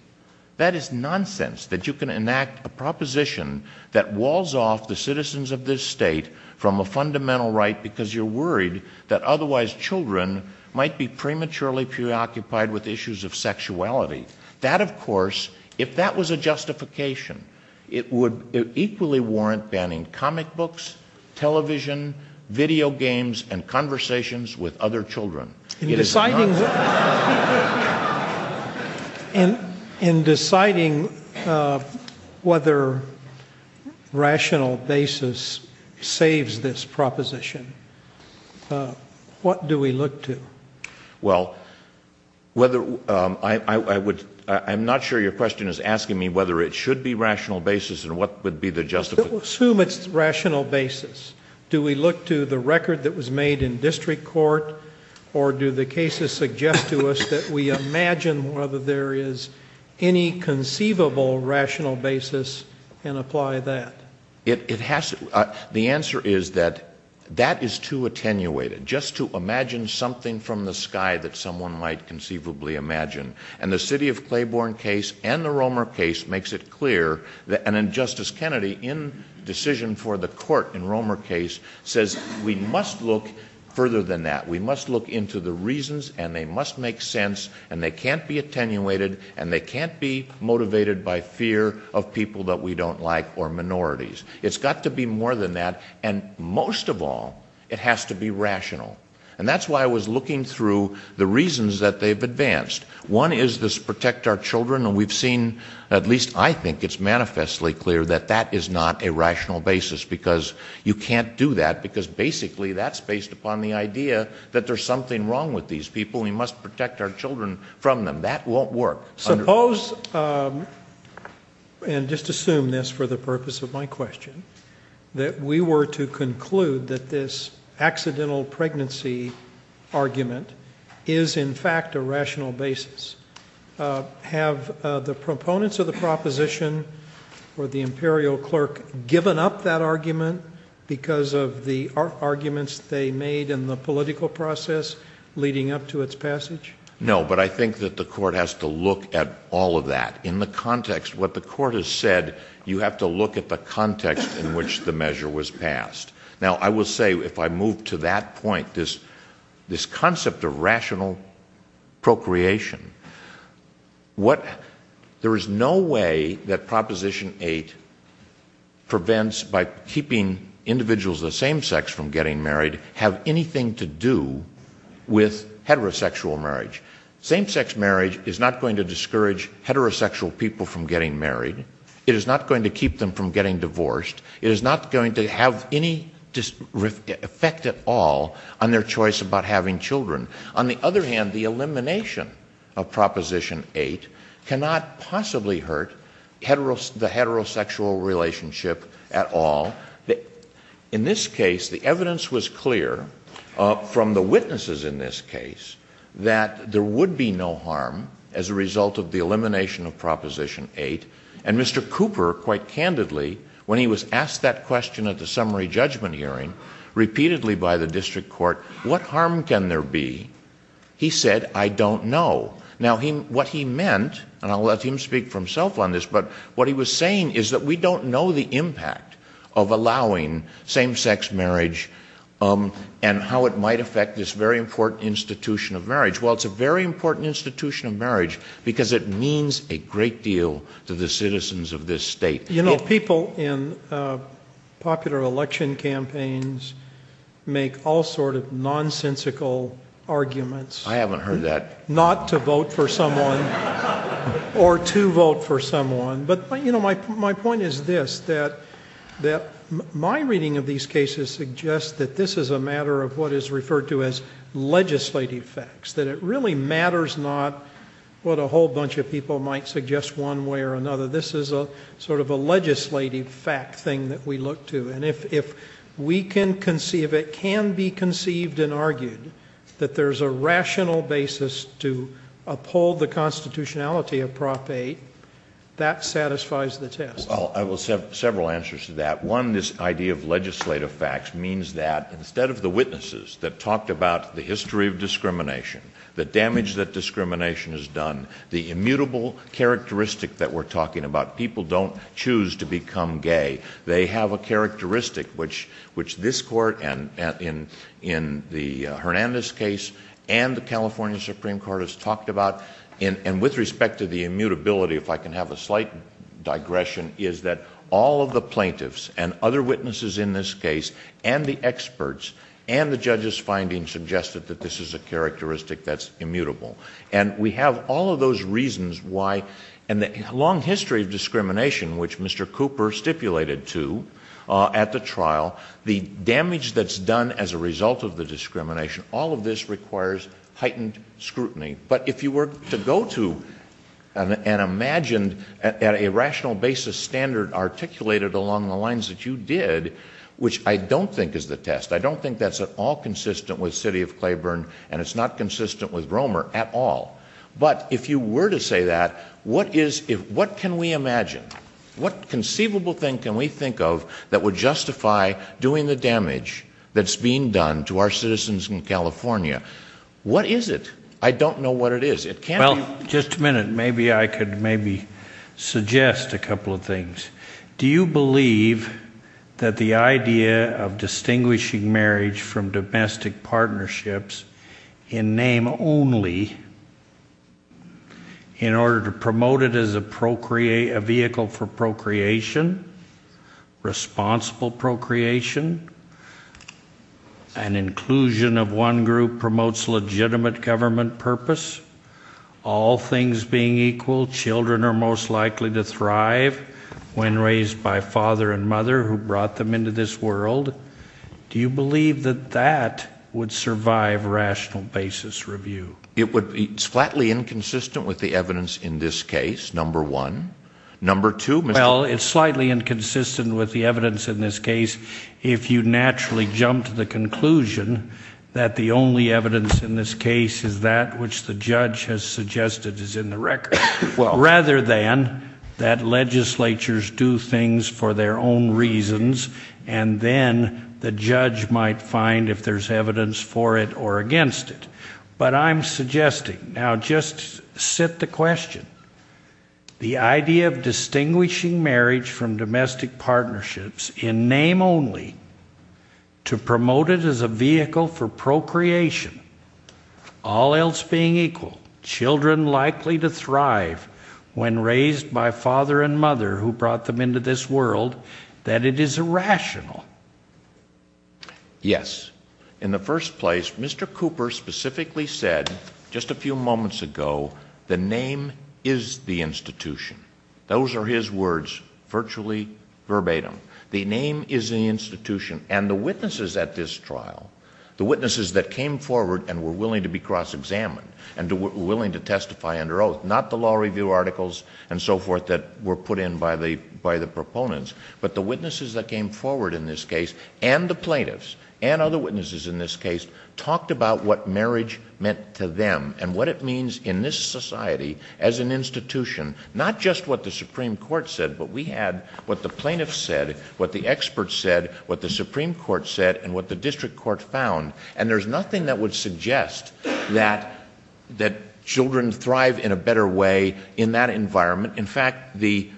That is nonsense, that you can enact a proposition that walls off the citizens of this state from a fundamental right because you're worried that otherwise children might be prematurely preoccupied with issues of sexuality. That, of course, if that was a justification, it would equally warrant banning comic books, television, video games, and conversations with other children. In deciding whether rational basis saves this proposition, what do we look to? Well, I'm not sure your question is asking me whether it should be rational basis and what would be the justification. Let's assume it's rational basis. Do we look to the record that was made in district court, or do the cases suggest to us that we imagine whether there is any conceivable rational basis and apply that? The answer is that that is too attenuated, just to imagine something from the sky that someone might conceivably imagine. And the city of Claiborne case and the Romer case makes it clear, and then Justice Kennedy, in decision for the court in Romer case, says we must look further than that. We must look into the reasons, and they must make sense, and they can't be attenuated, and they can't be motivated by fear of people that we don't like or minorities. It's got to be more than that, and most of all, it has to be rational. And that's why I was looking through the reasons that they've advanced. One is this protect our children, and we've seen, at least I think, it's manifestly clear that that is not a rational basis, because you can't do that, because basically that's based upon the idea that there's something wrong with these people and we must protect our children from them. That won't work. Suppose, and just assume this for the purpose of my question, that we were to conclude that this accidental pregnancy argument is in fact a rational basis. Have the proponents of the proposition or the imperial clerk given up that argument because of the arguments they made in the political process leading up to its passage? No, but I think that the court has to look at all of that in the context. What the court has said, you have to look at the context in which the measure was passed. Now, I will say, if I move to that point, this concept of rational procreation, there is no way that Proposition 8 prevents, by keeping individuals of the same sex from getting married, have anything to do with heterosexual marriage. Same sex marriage is not going to discourage heterosexual people from getting married. It is not going to keep them from getting divorced. It is not going to have any effect at all on their choice about having children. On the other hand, the elimination of Proposition 8 cannot possibly hurt the heterosexual relationship at all. In this case, the evidence was clear from the witnesses in this case, that there would be no harm as a result of the elimination of Proposition 8. And Mr. Cooper, quite candidly, when he was asked that question at the summary judgment hearing, repeatedly by the district court, what harm can there be? He said, I don't know. Now, what he meant, and I'll let him speak for himself on this, but what he was saying is that we don't know the impact of allowing same sex marriage and how it might affect this very important institution of marriage. Well, it's a very important institution of marriage because it means a great deal to the citizens of this state. You know, people in popular election campaigns make all sorts of nonsensical arguments. I haven't heard that. Not to vote for someone or to vote for someone. But, you know, my point is this, that my reading of these cases suggests that this is a matter of what is referred to as legislative facts, that it really matters not what a whole bunch of people might suggest one way or another. This is sort of a legislative fact thing that we look to. And if we can conceive, if it can be conceived and argued that there's a rational basis to uphold the constitutionality of Prop 8, that satisfies the test. Well, I will have several answers to that. One, this idea of legislative facts means that instead of the witnesses that talked about the history of discrimination, the damage that discrimination has done, the immutable characteristic that we're talking about, people don't choose to become gay. They have a characteristic, which this court in the Hernandez case and the California Supreme Court has talked about. And with respect to the immutability, if I can have a slight digression, is that all of the plaintiffs and other witnesses in this case and the experts and the judges' findings suggested that this is a characteristic that's immutable. And we have all of those reasons why in the long history of discrimination, which Mr. Cooper stipulated to at the trial, the damage that's done as a result of the discrimination, all of this requires heightened scrutiny. But if you were to go to and imagine a rational basis standard articulated along the lines that you did, which I don't think is the test, I don't think that's at all consistent with the city of Claiborne and it's not consistent with Romer at all. But if you were to say that, what can we imagine? What conceivable thing can we think of that would justify doing the damage that's being done to our citizens in California? What is it? I don't know what it is. Well, just a minute. Maybe I could maybe suggest a couple of things. Do you believe that the idea of distinguishing marriage from domestic partnerships in name only in order to promote it as a vehicle for procreation, responsible procreation, an inclusion of one group promotes legitimate government purpose, all things being equal, children are most likely to thrive when raised by a father and mother who brought them into this world, do you believe that that would survive rational basis review? It would be slightly inconsistent with the evidence in this case, number one. Number two. Well, it's slightly inconsistent with the evidence in this case. If you naturally jump to the conclusion that the only evidence in this case is that which the judge has suggested is in the record, rather than that legislatures do things for their own reasons and then the judge might find if there's evidence for it or against it. But I'm suggesting, now just sit the question. The idea of distinguishing marriage from domestic partnerships in name only to promote it as a vehicle for procreation, all else being equal, children likely to thrive when raised by a father and mother who brought them into this world, that it is irrational. Yes. In the first place, Mr. Cooper specifically said just a few moments ago, the name is the institution. Those are his words, virtually verbatim. The name is the institution. And the witnesses at this trial, the witnesses that came forward and were willing to be cross-examined, and were willing to testify under oath, not the law review articles and so forth that were put in by the proponents, but the witnesses that came forward in this case, and the plaintiffs, and other witnesses in this case, talked about what marriage meant to them and what it means in this society as an institution. Not just what the Supreme Court said, but we had what the plaintiffs said, what the experts said, what the Supreme Court said, and what the district court found. And there's nothing that would suggest that children thrive in a better way in that environment. In fact, the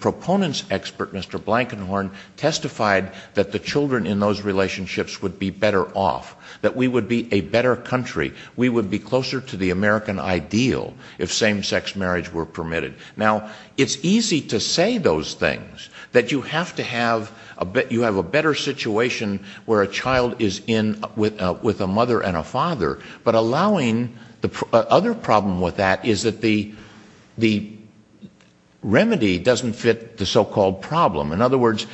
proponents' expert, Mr. Blankenhorn, testified that the children in those relationships would be better off, that we would be a better country, we would be closer to the American ideal if same-sex marriage were permitted. Now, it's easy to say those things, that you have to have a better situation where a child is in with a mother and a father, but allowing the other problem with that is that the remedy doesn't fit the so-called problem. In other words,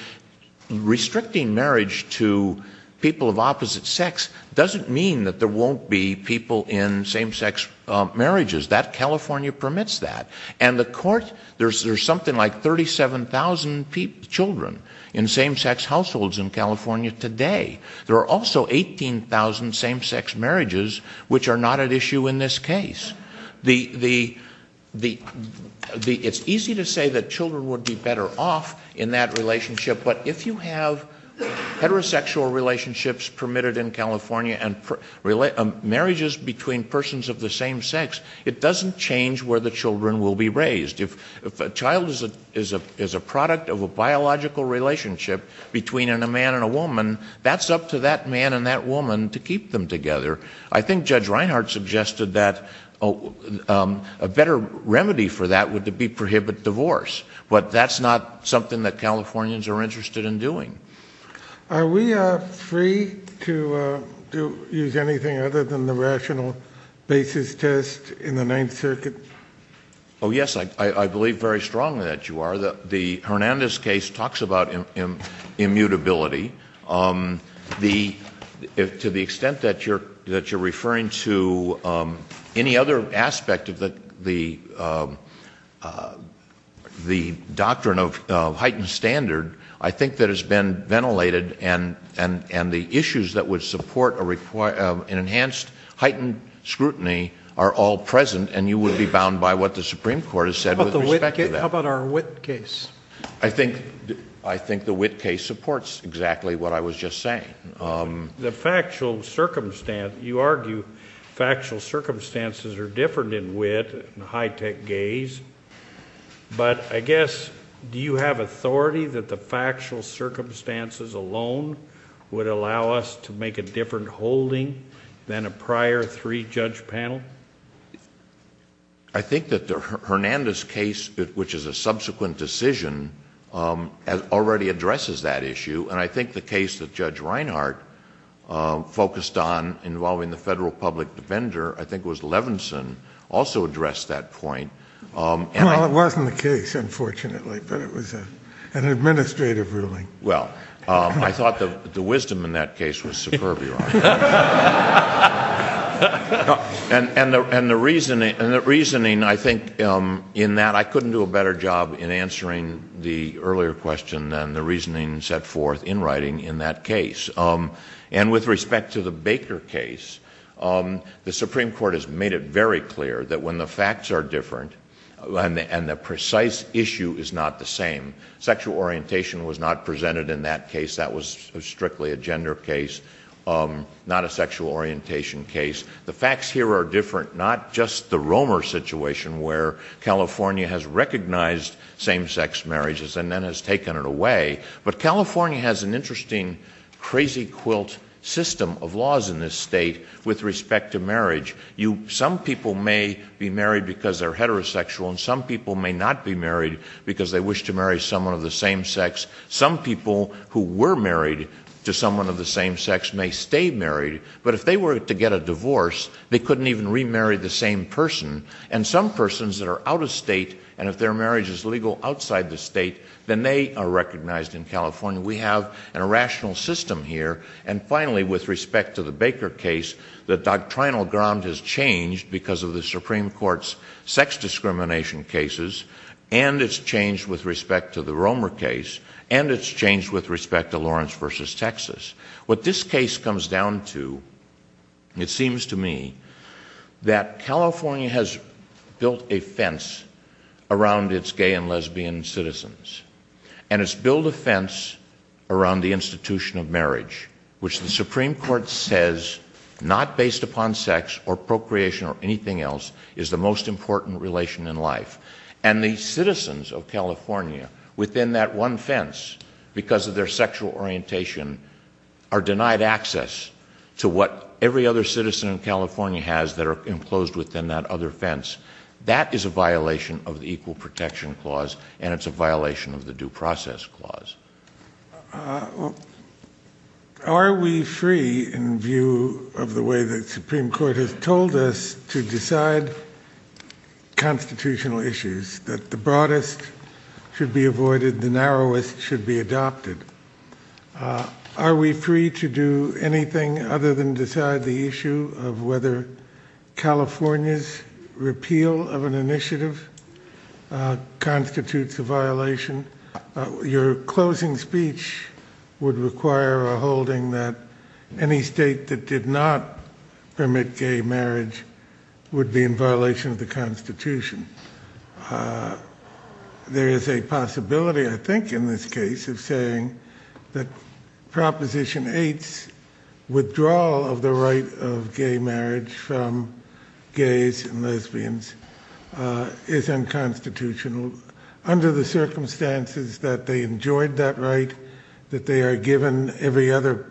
restricting marriage to people of opposite sex doesn't mean that there won't be people in same-sex marriages. California permits that. And the courts, there's something like 37,000 children in same-sex households in California today. There are also 18,000 same-sex marriages which are not at issue in this case. It's easy to say that children would be better off in that relationship, but if you have heterosexual relationships permitted in California and marriages between persons of the same sex, it doesn't change where the children will be raised. If a child is a product of a biological relationship between a man and a woman, that's up to that man and that woman to keep them together. I think Judge Reinhart suggested that a better remedy for that would be to prohibit divorce, but that's not something that Californians are interested in doing. Are we free to use anything other than the rational basis test in the Ninth Circuit? Oh, yes, I believe very strongly that you are. The Hernandez case talks about immutability. To the extent that you're referring to any other aspect of the doctrine of heightened standard, I think that has been ventilated and the issues that would support an enhanced heightened scrutiny are all present and you would be bound by what the Supreme Court has said with respect to that. How about our Witt case? I think the Witt case supports exactly what I was just saying. You argue factual circumstances are different in Witt and high-tech gays, but I guess, do you have authority that the factual circumstances alone would allow us to make a different holding than a prior three-judge panel? I think that the Hernandez case, which is a subsequent decision, already addresses that issue, and I think the case that Judge Reinhart focused on involving the federal public defender, I think it was Levinson, also addressed that point. Well, it wasn't the case, unfortunately, but it was an administrative ruling. Well, I thought the wisdom in that case was superfluous. And the reasoning, I think, in that I couldn't do a better job in answering the earlier question than the reasoning set forth in writing in that case. And with respect to the Baker case, the Supreme Court has made it very clear that when the facts are different and the precise issue is not the same, sexual orientation was not presented in that case. That was strictly a gender case, not a sexual orientation case. The facts here are different, not just the Romer situation, where California has recognized same-sex marriages and then has taken it away, but California has an interesting, crazy-quilt system of laws in this state with respect to marriage. Some people may be married because they're heterosexual, and some people may not be married because they wish to marry someone of the same sex. Some people who were married to someone of the same sex may stay married, but if they were to get a divorce, they couldn't even remarry the same person. And some persons that are out of state, and if their marriage is legal outside the state, then they are recognized in California. We have a rational system here. And finally, with respect to the Baker case, the doctrinal ground has changed because of the Supreme Court's sex discrimination cases, and it's changed with respect to the Romer case, and it's changed with respect to Lawrence v. Texas. What this case comes down to, it seems to me, that California has built a fence around its gay and lesbian citizens, and it's built a fence around the institution of marriage, which the Supreme Court says, not based upon sex or procreation or anything else, is the most important relation in life. And the citizens of California, within that one fence, because of their sexual orientation, are denied access to what every other citizen in California has that are enclosed within that other fence. That is a violation of the Equal Protection Clause, and it's a violation of the Due Process Clause. Are we free in view of the way the Supreme Court has told us to decide constitutional issues, that the broadest should be avoided, the narrowest should be adopted? Are we free to do anything other than decide the issue of whether California's repeal of an initiative constitutes a violation? Your closing speech would require a holding that any state that did not permit gay marriage would be in violation of the Constitution. There is a possibility, I think in this case, of saying that Proposition 8's withdrawal of the right of gay marriage from gays and lesbians is unconstitutional, under the circumstances that they enjoyed that right, that they are given every other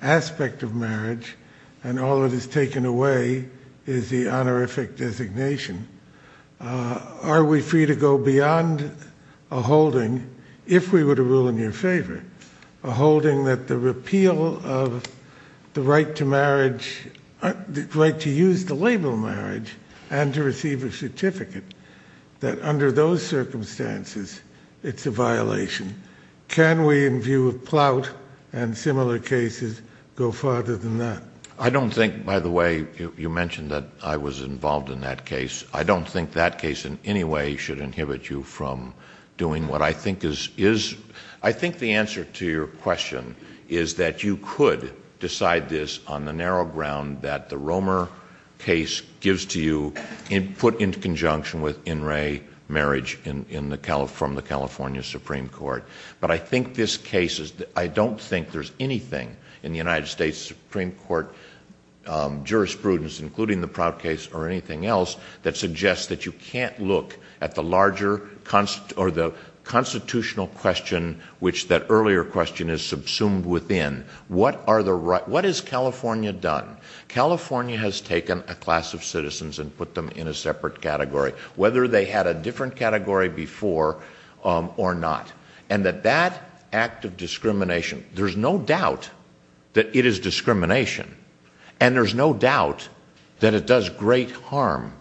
aspect of marriage, and all that is taken away is the honorific designation. Are we free to go beyond a holding, if we were to rule in your favor, a holding that the repeal of the right to use the label marriage and to receive a certificate, that under those circumstances it's a violation? Can we, in view of Plout and similar cases, go farther than that? I don't think, by the way, you mentioned that I was involved in that case, I don't think that case in any way should inhibit you from doing what I think is... I think the answer to your question is that you could decide this on the narrow ground that the Romer case gives to you, put in conjunction with in re marriage from the California Supreme Court. But I think this case is... I don't think there's anything in the United States Supreme Court jurisprudence, including the Plout case or anything else, that suggests that you can't look at the larger constitutional question, which that earlier question is subsumed within. What is California done? California has taken a class of citizens and put them in a separate category, whether they had a different category before or not. And that that act of discrimination, there's no doubt that it is discrimination. And there's no doubt that it does great harm.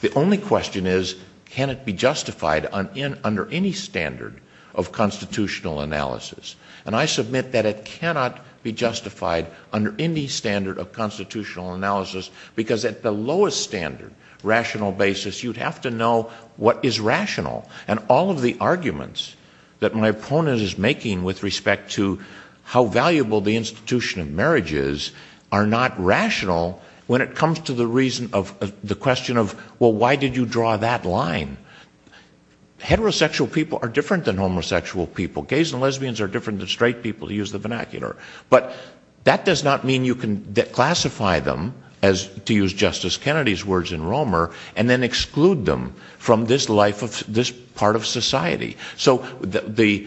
The only question is, can it be justified under any standard of constitutional analysis? And I submit that it cannot be justified under any standard of constitutional analysis, because at the lowest standard, rational basis, you'd have to know what is rational. And all of the arguments that my opponent is making with respect to how valuable the institution of marriage is, are not rational when it comes to the question of, well, why did you draw that line? Heterosexual people are different than homosexual people. Gays and lesbians are different than straight people, to use the vernacular. But that does not mean you can classify them, to use Justice Kennedy's words in Romer, and then exclude them from this part of society. So the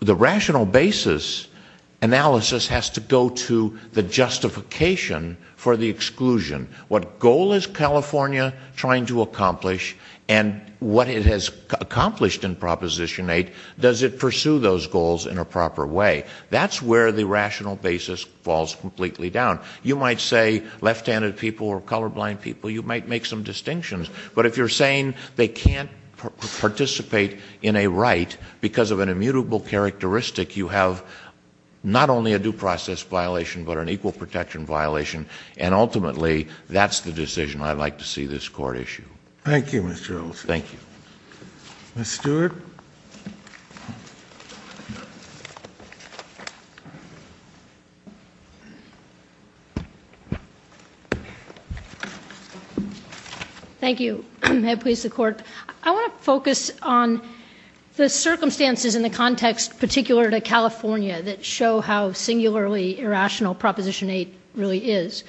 rational basis analysis has to go to the justification for the exclusion. What goal is California trying to accomplish, and what it has accomplished in Proposition 8, does it pursue those goals in a proper way? That's where the rational basis falls completely down. You might say left-handed people are colorblind people. You might make some distinctions. But if you're saying they can't participate in a right because of an immutable characteristic, you have not only a due process violation, but an equal protection violation. And ultimately, that's the decision I'd like to see this court issue. Thank you, Mr. Earls. Thank you. Ms. Stewart. Thank you. May it please the Court. I want to focus on the circumstances in the context particular to California that show how singularly irrational Proposition 8 really is.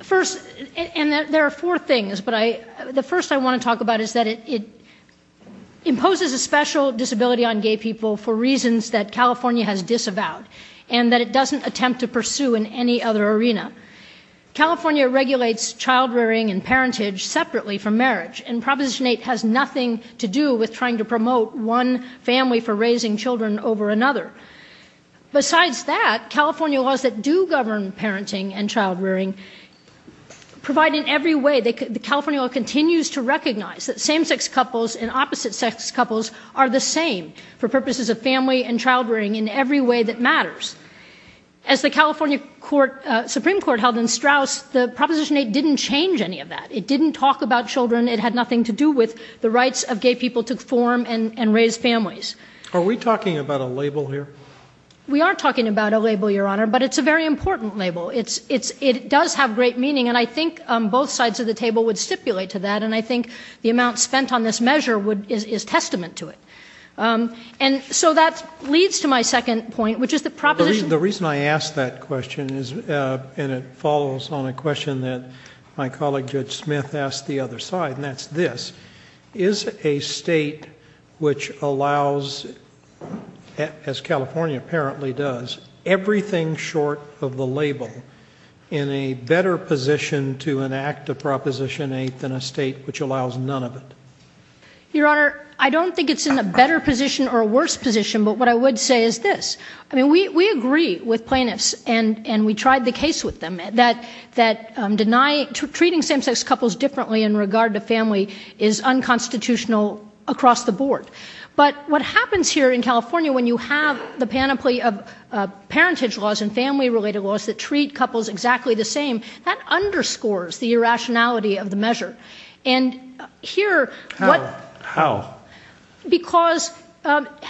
First, and there are four things, but the first I want to talk about is that it imposes a special disability on gay people for reasons that California has disavowed, and that it doesn't attempt to pursue in any other arena. California regulates child-rearing and parentage separately from marriage, and Proposition 8 has nothing to do with trying to promote one family for raising children over another. Besides that, California laws that do govern parenting and child-rearing provide in every way that California continues to recognize that same-sex couples and opposite-sex couples are the same for purposes of family and child-rearing in every way that matters. As the California Supreme Court held in Straus, the Proposition 8 didn't change any of that. It didn't talk about children. It had nothing to do with the rights of gay people to form and raise families. Are we talking about a label here? We are talking about a label, Your Honor, but it's a very important label. It does have great meaning, and I think both sides of the table would stipulate to that, and I think the amount spent on this measure is testament to it. And so that leads to my second point, which is the proposition... The reason I ask that question, and it follows on a question that my colleague, Richard Smith, asked the other side, and that's this. Is a state which allows, as California apparently does, everything short of the label, in a better position to enact the Proposition 8 than a state which allows none of it? Your Honor, I don't think it's in a better position or a worse position, but what I would say is this. I mean, we agree with plaintiffs, and we tried the case with them, that treating same-sex couples differently in regard to family is unconstitutional across the board. But what happens here in California when you have the panoply of parentage laws and family-related laws that treat couples exactly the same, that underscores the irrationality of the measure. And here... How? Because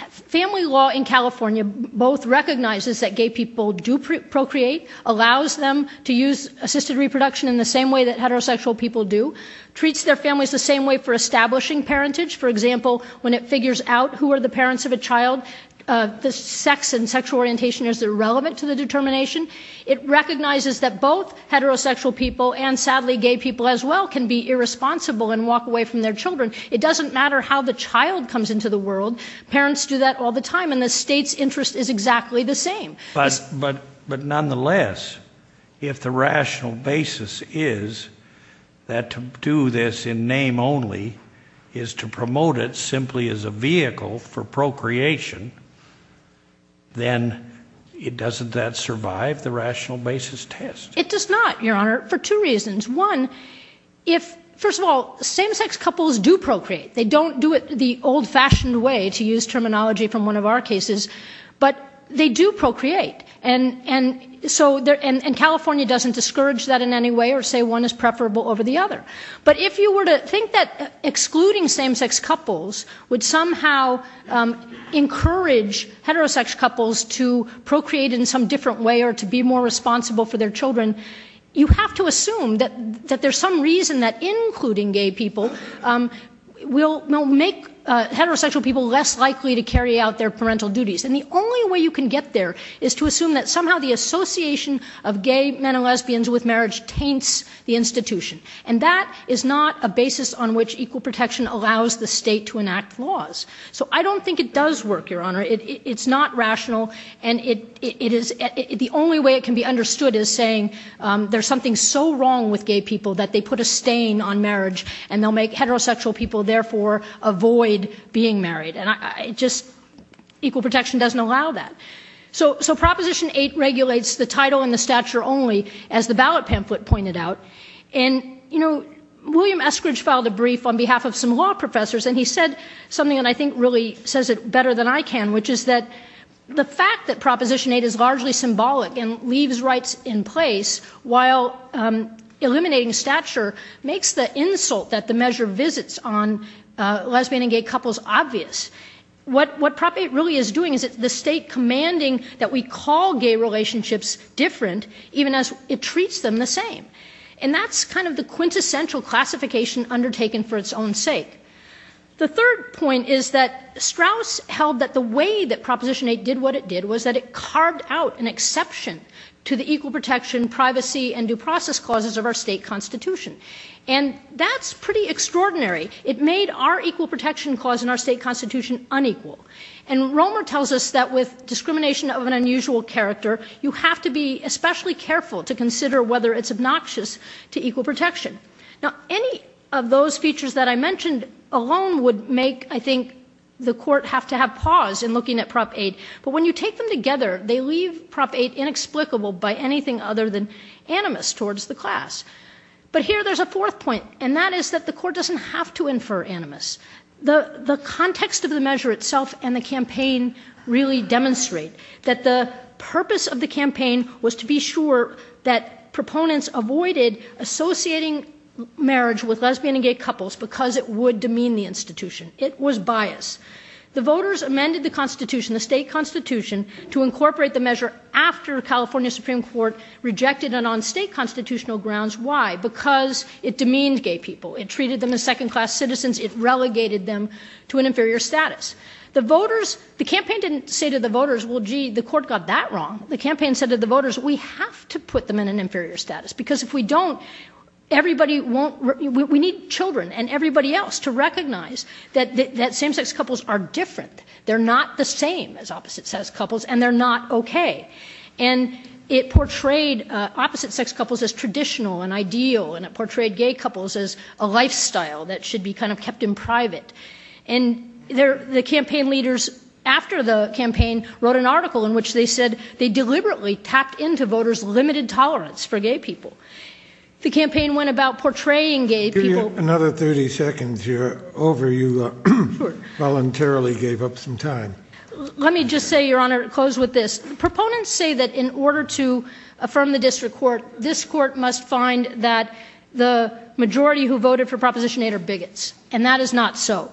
family law in California both recognizes that gay people do procreate, allows them to use assisted reproduction in the same way that heterosexual people do, treats their families the same way for establishing parentage. For example, when it figures out who are the parents of a child, the sex and sexual orientation, is it relevant to the determination? It recognizes that both heterosexual people and sadly gay people as well can be irresponsible and walk away from their children. It doesn't matter how the child comes into the world. Parents do that all the time, and the state's interest is exactly the same. But nonetheless, if the rational basis is that to do this in name only is to promote it simply as a vehicle for procreation, then doesn't that survive the rational basis test? It does not, Your Honor, for two reasons. First of all, same-sex couples do procreate. They don't do it the old-fashioned way, to use terminology from one of our cases, but they do procreate. And California doesn't discourage that in any way or say one is preferable over the other. But if you were to think that excluding same-sex couples would somehow encourage heterosexual couples to procreate in some different way or to be more responsible for their children, you have to assume that there's some reason that including gay people will make heterosexual people less likely to carry out their parental duties. And the only way you can get there is to assume that somehow the association of gay men and lesbians with marriage taints the institution. And that is not a basis on which equal protection allows the state to enact laws. So I don't think it does work, Your Honor. It's not rational, and the only way it can be understood is saying there's something so wrong with gay people that they put a stain on marriage, and they'll make heterosexual people therefore avoid being married. And just equal protection doesn't allow that. So Proposition 8 regulates the title and the stature only, as the ballot pamphlet pointed out. And, you know, William Eskridge filed a brief on behalf of some law professors, and he said something that I think really says it better than I can, which is that the fact that Proposition 8 is largely symbolic and leaves rights in place while eliminating stature makes the insult that the measure visits on lesbian and gay couples obvious. What Prop 8 really is doing is the state commanding that we call gay relationships different even as it treats them the same. And that's kind of the quintessential classification undertaken for its own sake. The third point is that Strauss held that the way that Proposition 8 did what it did was that it carved out an exception to the equal protection, privacy, and due process clauses of our state constitution. And that's pretty extraordinary. It made our equal protection clause in our state constitution unequal. And Romer tells us that with discrimination of an unusual character, you have to be especially careful to consider whether it's obnoxious to equal protection. Now, any of those features that I mentioned alone would make, I think, the court have to have pause in looking at Prop 8. But when you take them together, they leave Prop 8 inexplicable by anything other than animus towards the class. But here there's a fourth point, and that is that the court doesn't have to infer animus. The context of the measure itself and the campaign really demonstrate that the purpose of the campaign was to be sure that proponents avoided associating marriage with lesbian and gay couples because it would demean the institution. It was bias. The voters amended the constitution, the state constitution, to incorporate the measure after California Supreme Court rejected it on state constitutional grounds. Why? Because it demeaned gay people. It treated them as second-class citizens. It relegated them to an inferior status. The campaign didn't say to the voters, well, gee, the court got that wrong. The campaign said to the voters, we have to put them in an inferior status because if we don't, we need children and everybody else to recognize that same-sex couples are different. They're not the same as opposite-sex couples, and they're not okay. And it portrayed opposite-sex couples as traditional and ideal, and it portrayed gay couples as a lifestyle that should be kind of kept in private. And the campaign leaders after the campaign wrote an article in which they said they deliberately packed into voters limited tolerance for gay people. The campaign went about portraying gay people. Another 30 seconds here. Over, you voluntarily gave up some time. Let me just say, Your Honor, close with this. Proponents say that in order to affirm the district court, this court must find that the majority who voted for Proposition 8 are bigots, and that is not so.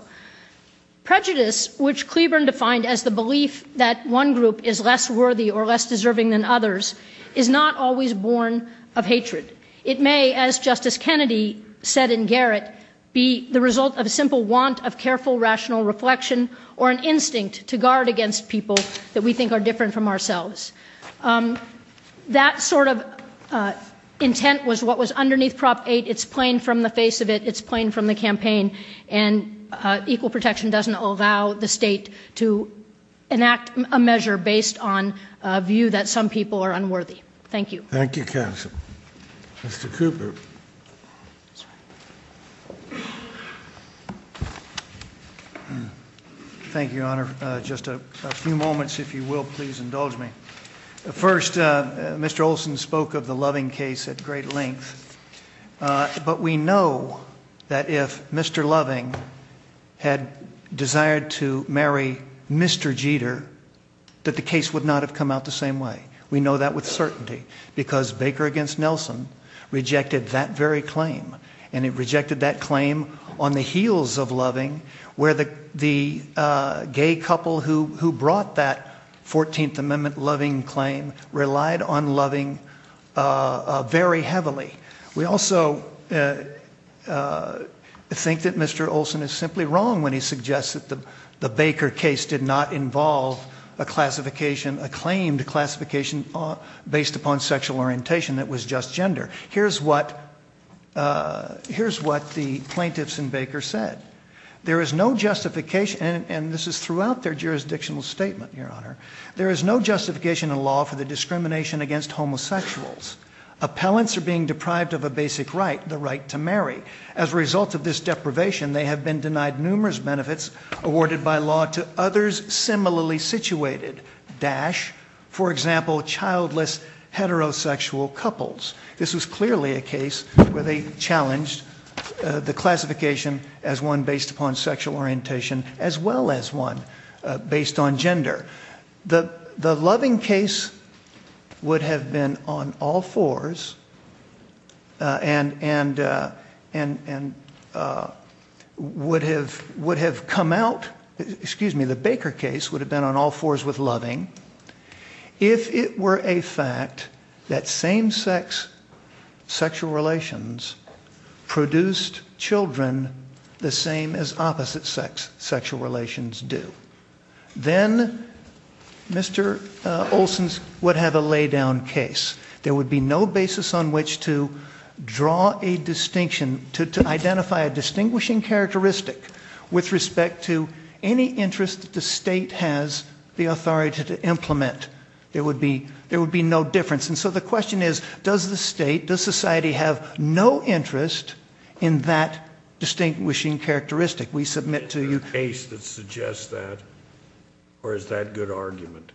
Prejudice, which Cleburne defined as the belief that one group is less worthy or less deserving than others, is not always born of hatred. It may, as Justice Kennedy said in Garrett, be the result of a simple want of careful, rational reflection or an instinct to guard against people that we think are different from ourselves. That sort of intent was what was underneath Prop 8. It's plain from the face of it. It's plain from the campaign. And equal protection doesn't allow the state to enact a measure based on a view that some people are unworthy. Thank you. Thank you, counsel. Mr. Cooper. Thank you, Your Honor. Just a few moments, if you will, please, indulge me. First, Mr. Olson spoke of the Loving case at great length, but we know that if Mr. Loving had desired to marry Mr. Jeter, that the case would not have come out the same way. We know that with certainty, because Baker v. Nelson rejected that very claim, and it rejected that claim on the heels of Loving, where the gay couple who brought that 14th Amendment Loving claim relied on Loving very heavily. We also think that Mr. Olson is simply wrong when he suggests that the Baker case did not involve a classification, a claimed classification based upon sexual orientation that was just gender. Here's what the plaintiffs in Baker said. There is no justification, and this is throughout their jurisdictional statement, Your Honor, there is no justification in law for the discrimination against homosexuals. Appellants are being deprived of a basic right, the right to marry. As a result of this deprivation, they have been denied numerous benefits awarded by law to others similarly situated, dash, for example, childless heterosexual couples. This is clearly a case where they challenged the classification as one based upon sexual orientation as well as one based on gender. The Loving case would have been on all fours and would have come out, excuse me, the Baker case would have been on all fours with Loving if it were a fact that same-sex sexual relations produced children the same as opposite-sex sexual relations do. Then Mr. Olson would have a lay-down case. There would be no basis on which to draw a distinction, to identify a distinguishing characteristic with respect to any interest the state has the authority to implement. There would be no difference. And so the question is, does the state, does society, have no interest in that distinguishing characteristic? We submit to you. Is there a case that suggests that, or is that a good argument?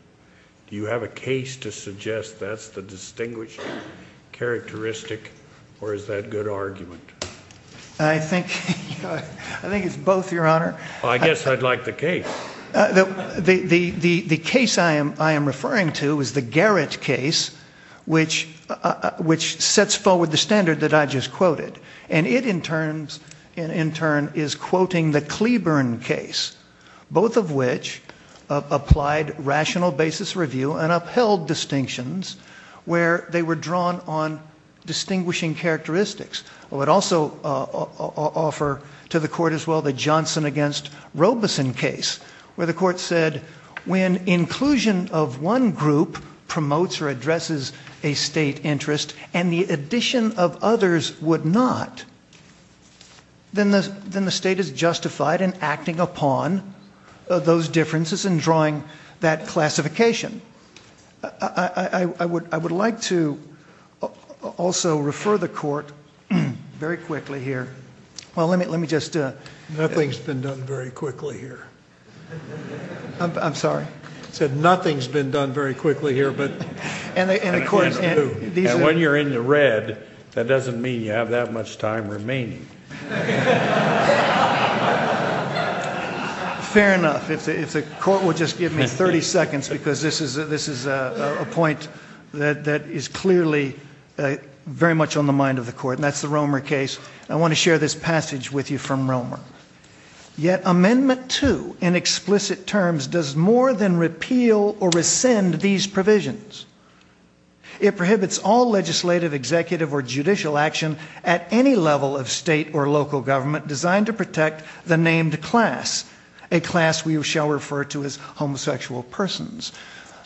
Do you have a case to suggest that's the distinguishing characteristic or is that a good argument? I think it's both, Your Honor. I guess I'd like the case. The case I am referring to is the Garrett case, which sets forward the standard that I just quoted. And it, in turn, is quoting the Cleburne case, both of which applied rational basis review and upheld distinctions where they were drawn on distinguishing characteristics. I would also offer to the Court as well the Johnson against Robeson case, where the Court said, when inclusion of one group promotes or addresses a state interest and the addition of others would not, then the state is justified in acting upon those differences and drawing that classification. I would like to also refer the Court very quickly here. Well, let me just... Nothing's been done very quickly here. I'm sorry. I said nothing's been done very quickly here, but... And when you're in the red, that doesn't mean you have that much time remaining. Fair enough. The Court will just give me 30 seconds because this is a point that is clearly very much on the mind of the Court, and that's the Romer case. I want to share this passage with you from Romer. Yet Amendment 2, in explicit terms, does more than repeal or rescind these provisions. It prohibits all legislative, executive or judicial action at any level of state or local government designed to protect the named class, a class we shall refer to as homosexual persons.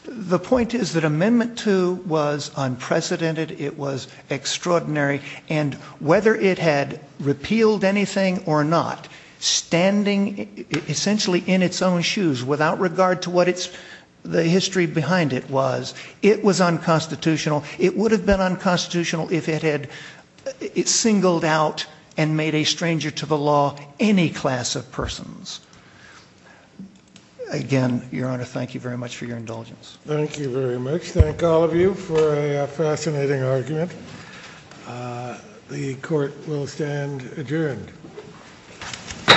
The point is that Amendment 2 was unprecedented, it was extraordinary, and whether it had repealed anything or not, standing essentially in its own shoes without regard to what the history behind it was, it was unconstitutional. It would have been unconstitutional if it had singled out and made a stranger to the law any class of persons. Again, Your Honor, thank you very much for your indulgence. Thank you very much. Thank all of you for a fascinating argument. The Court will stand adjourned. All rise. The Court is adjourned.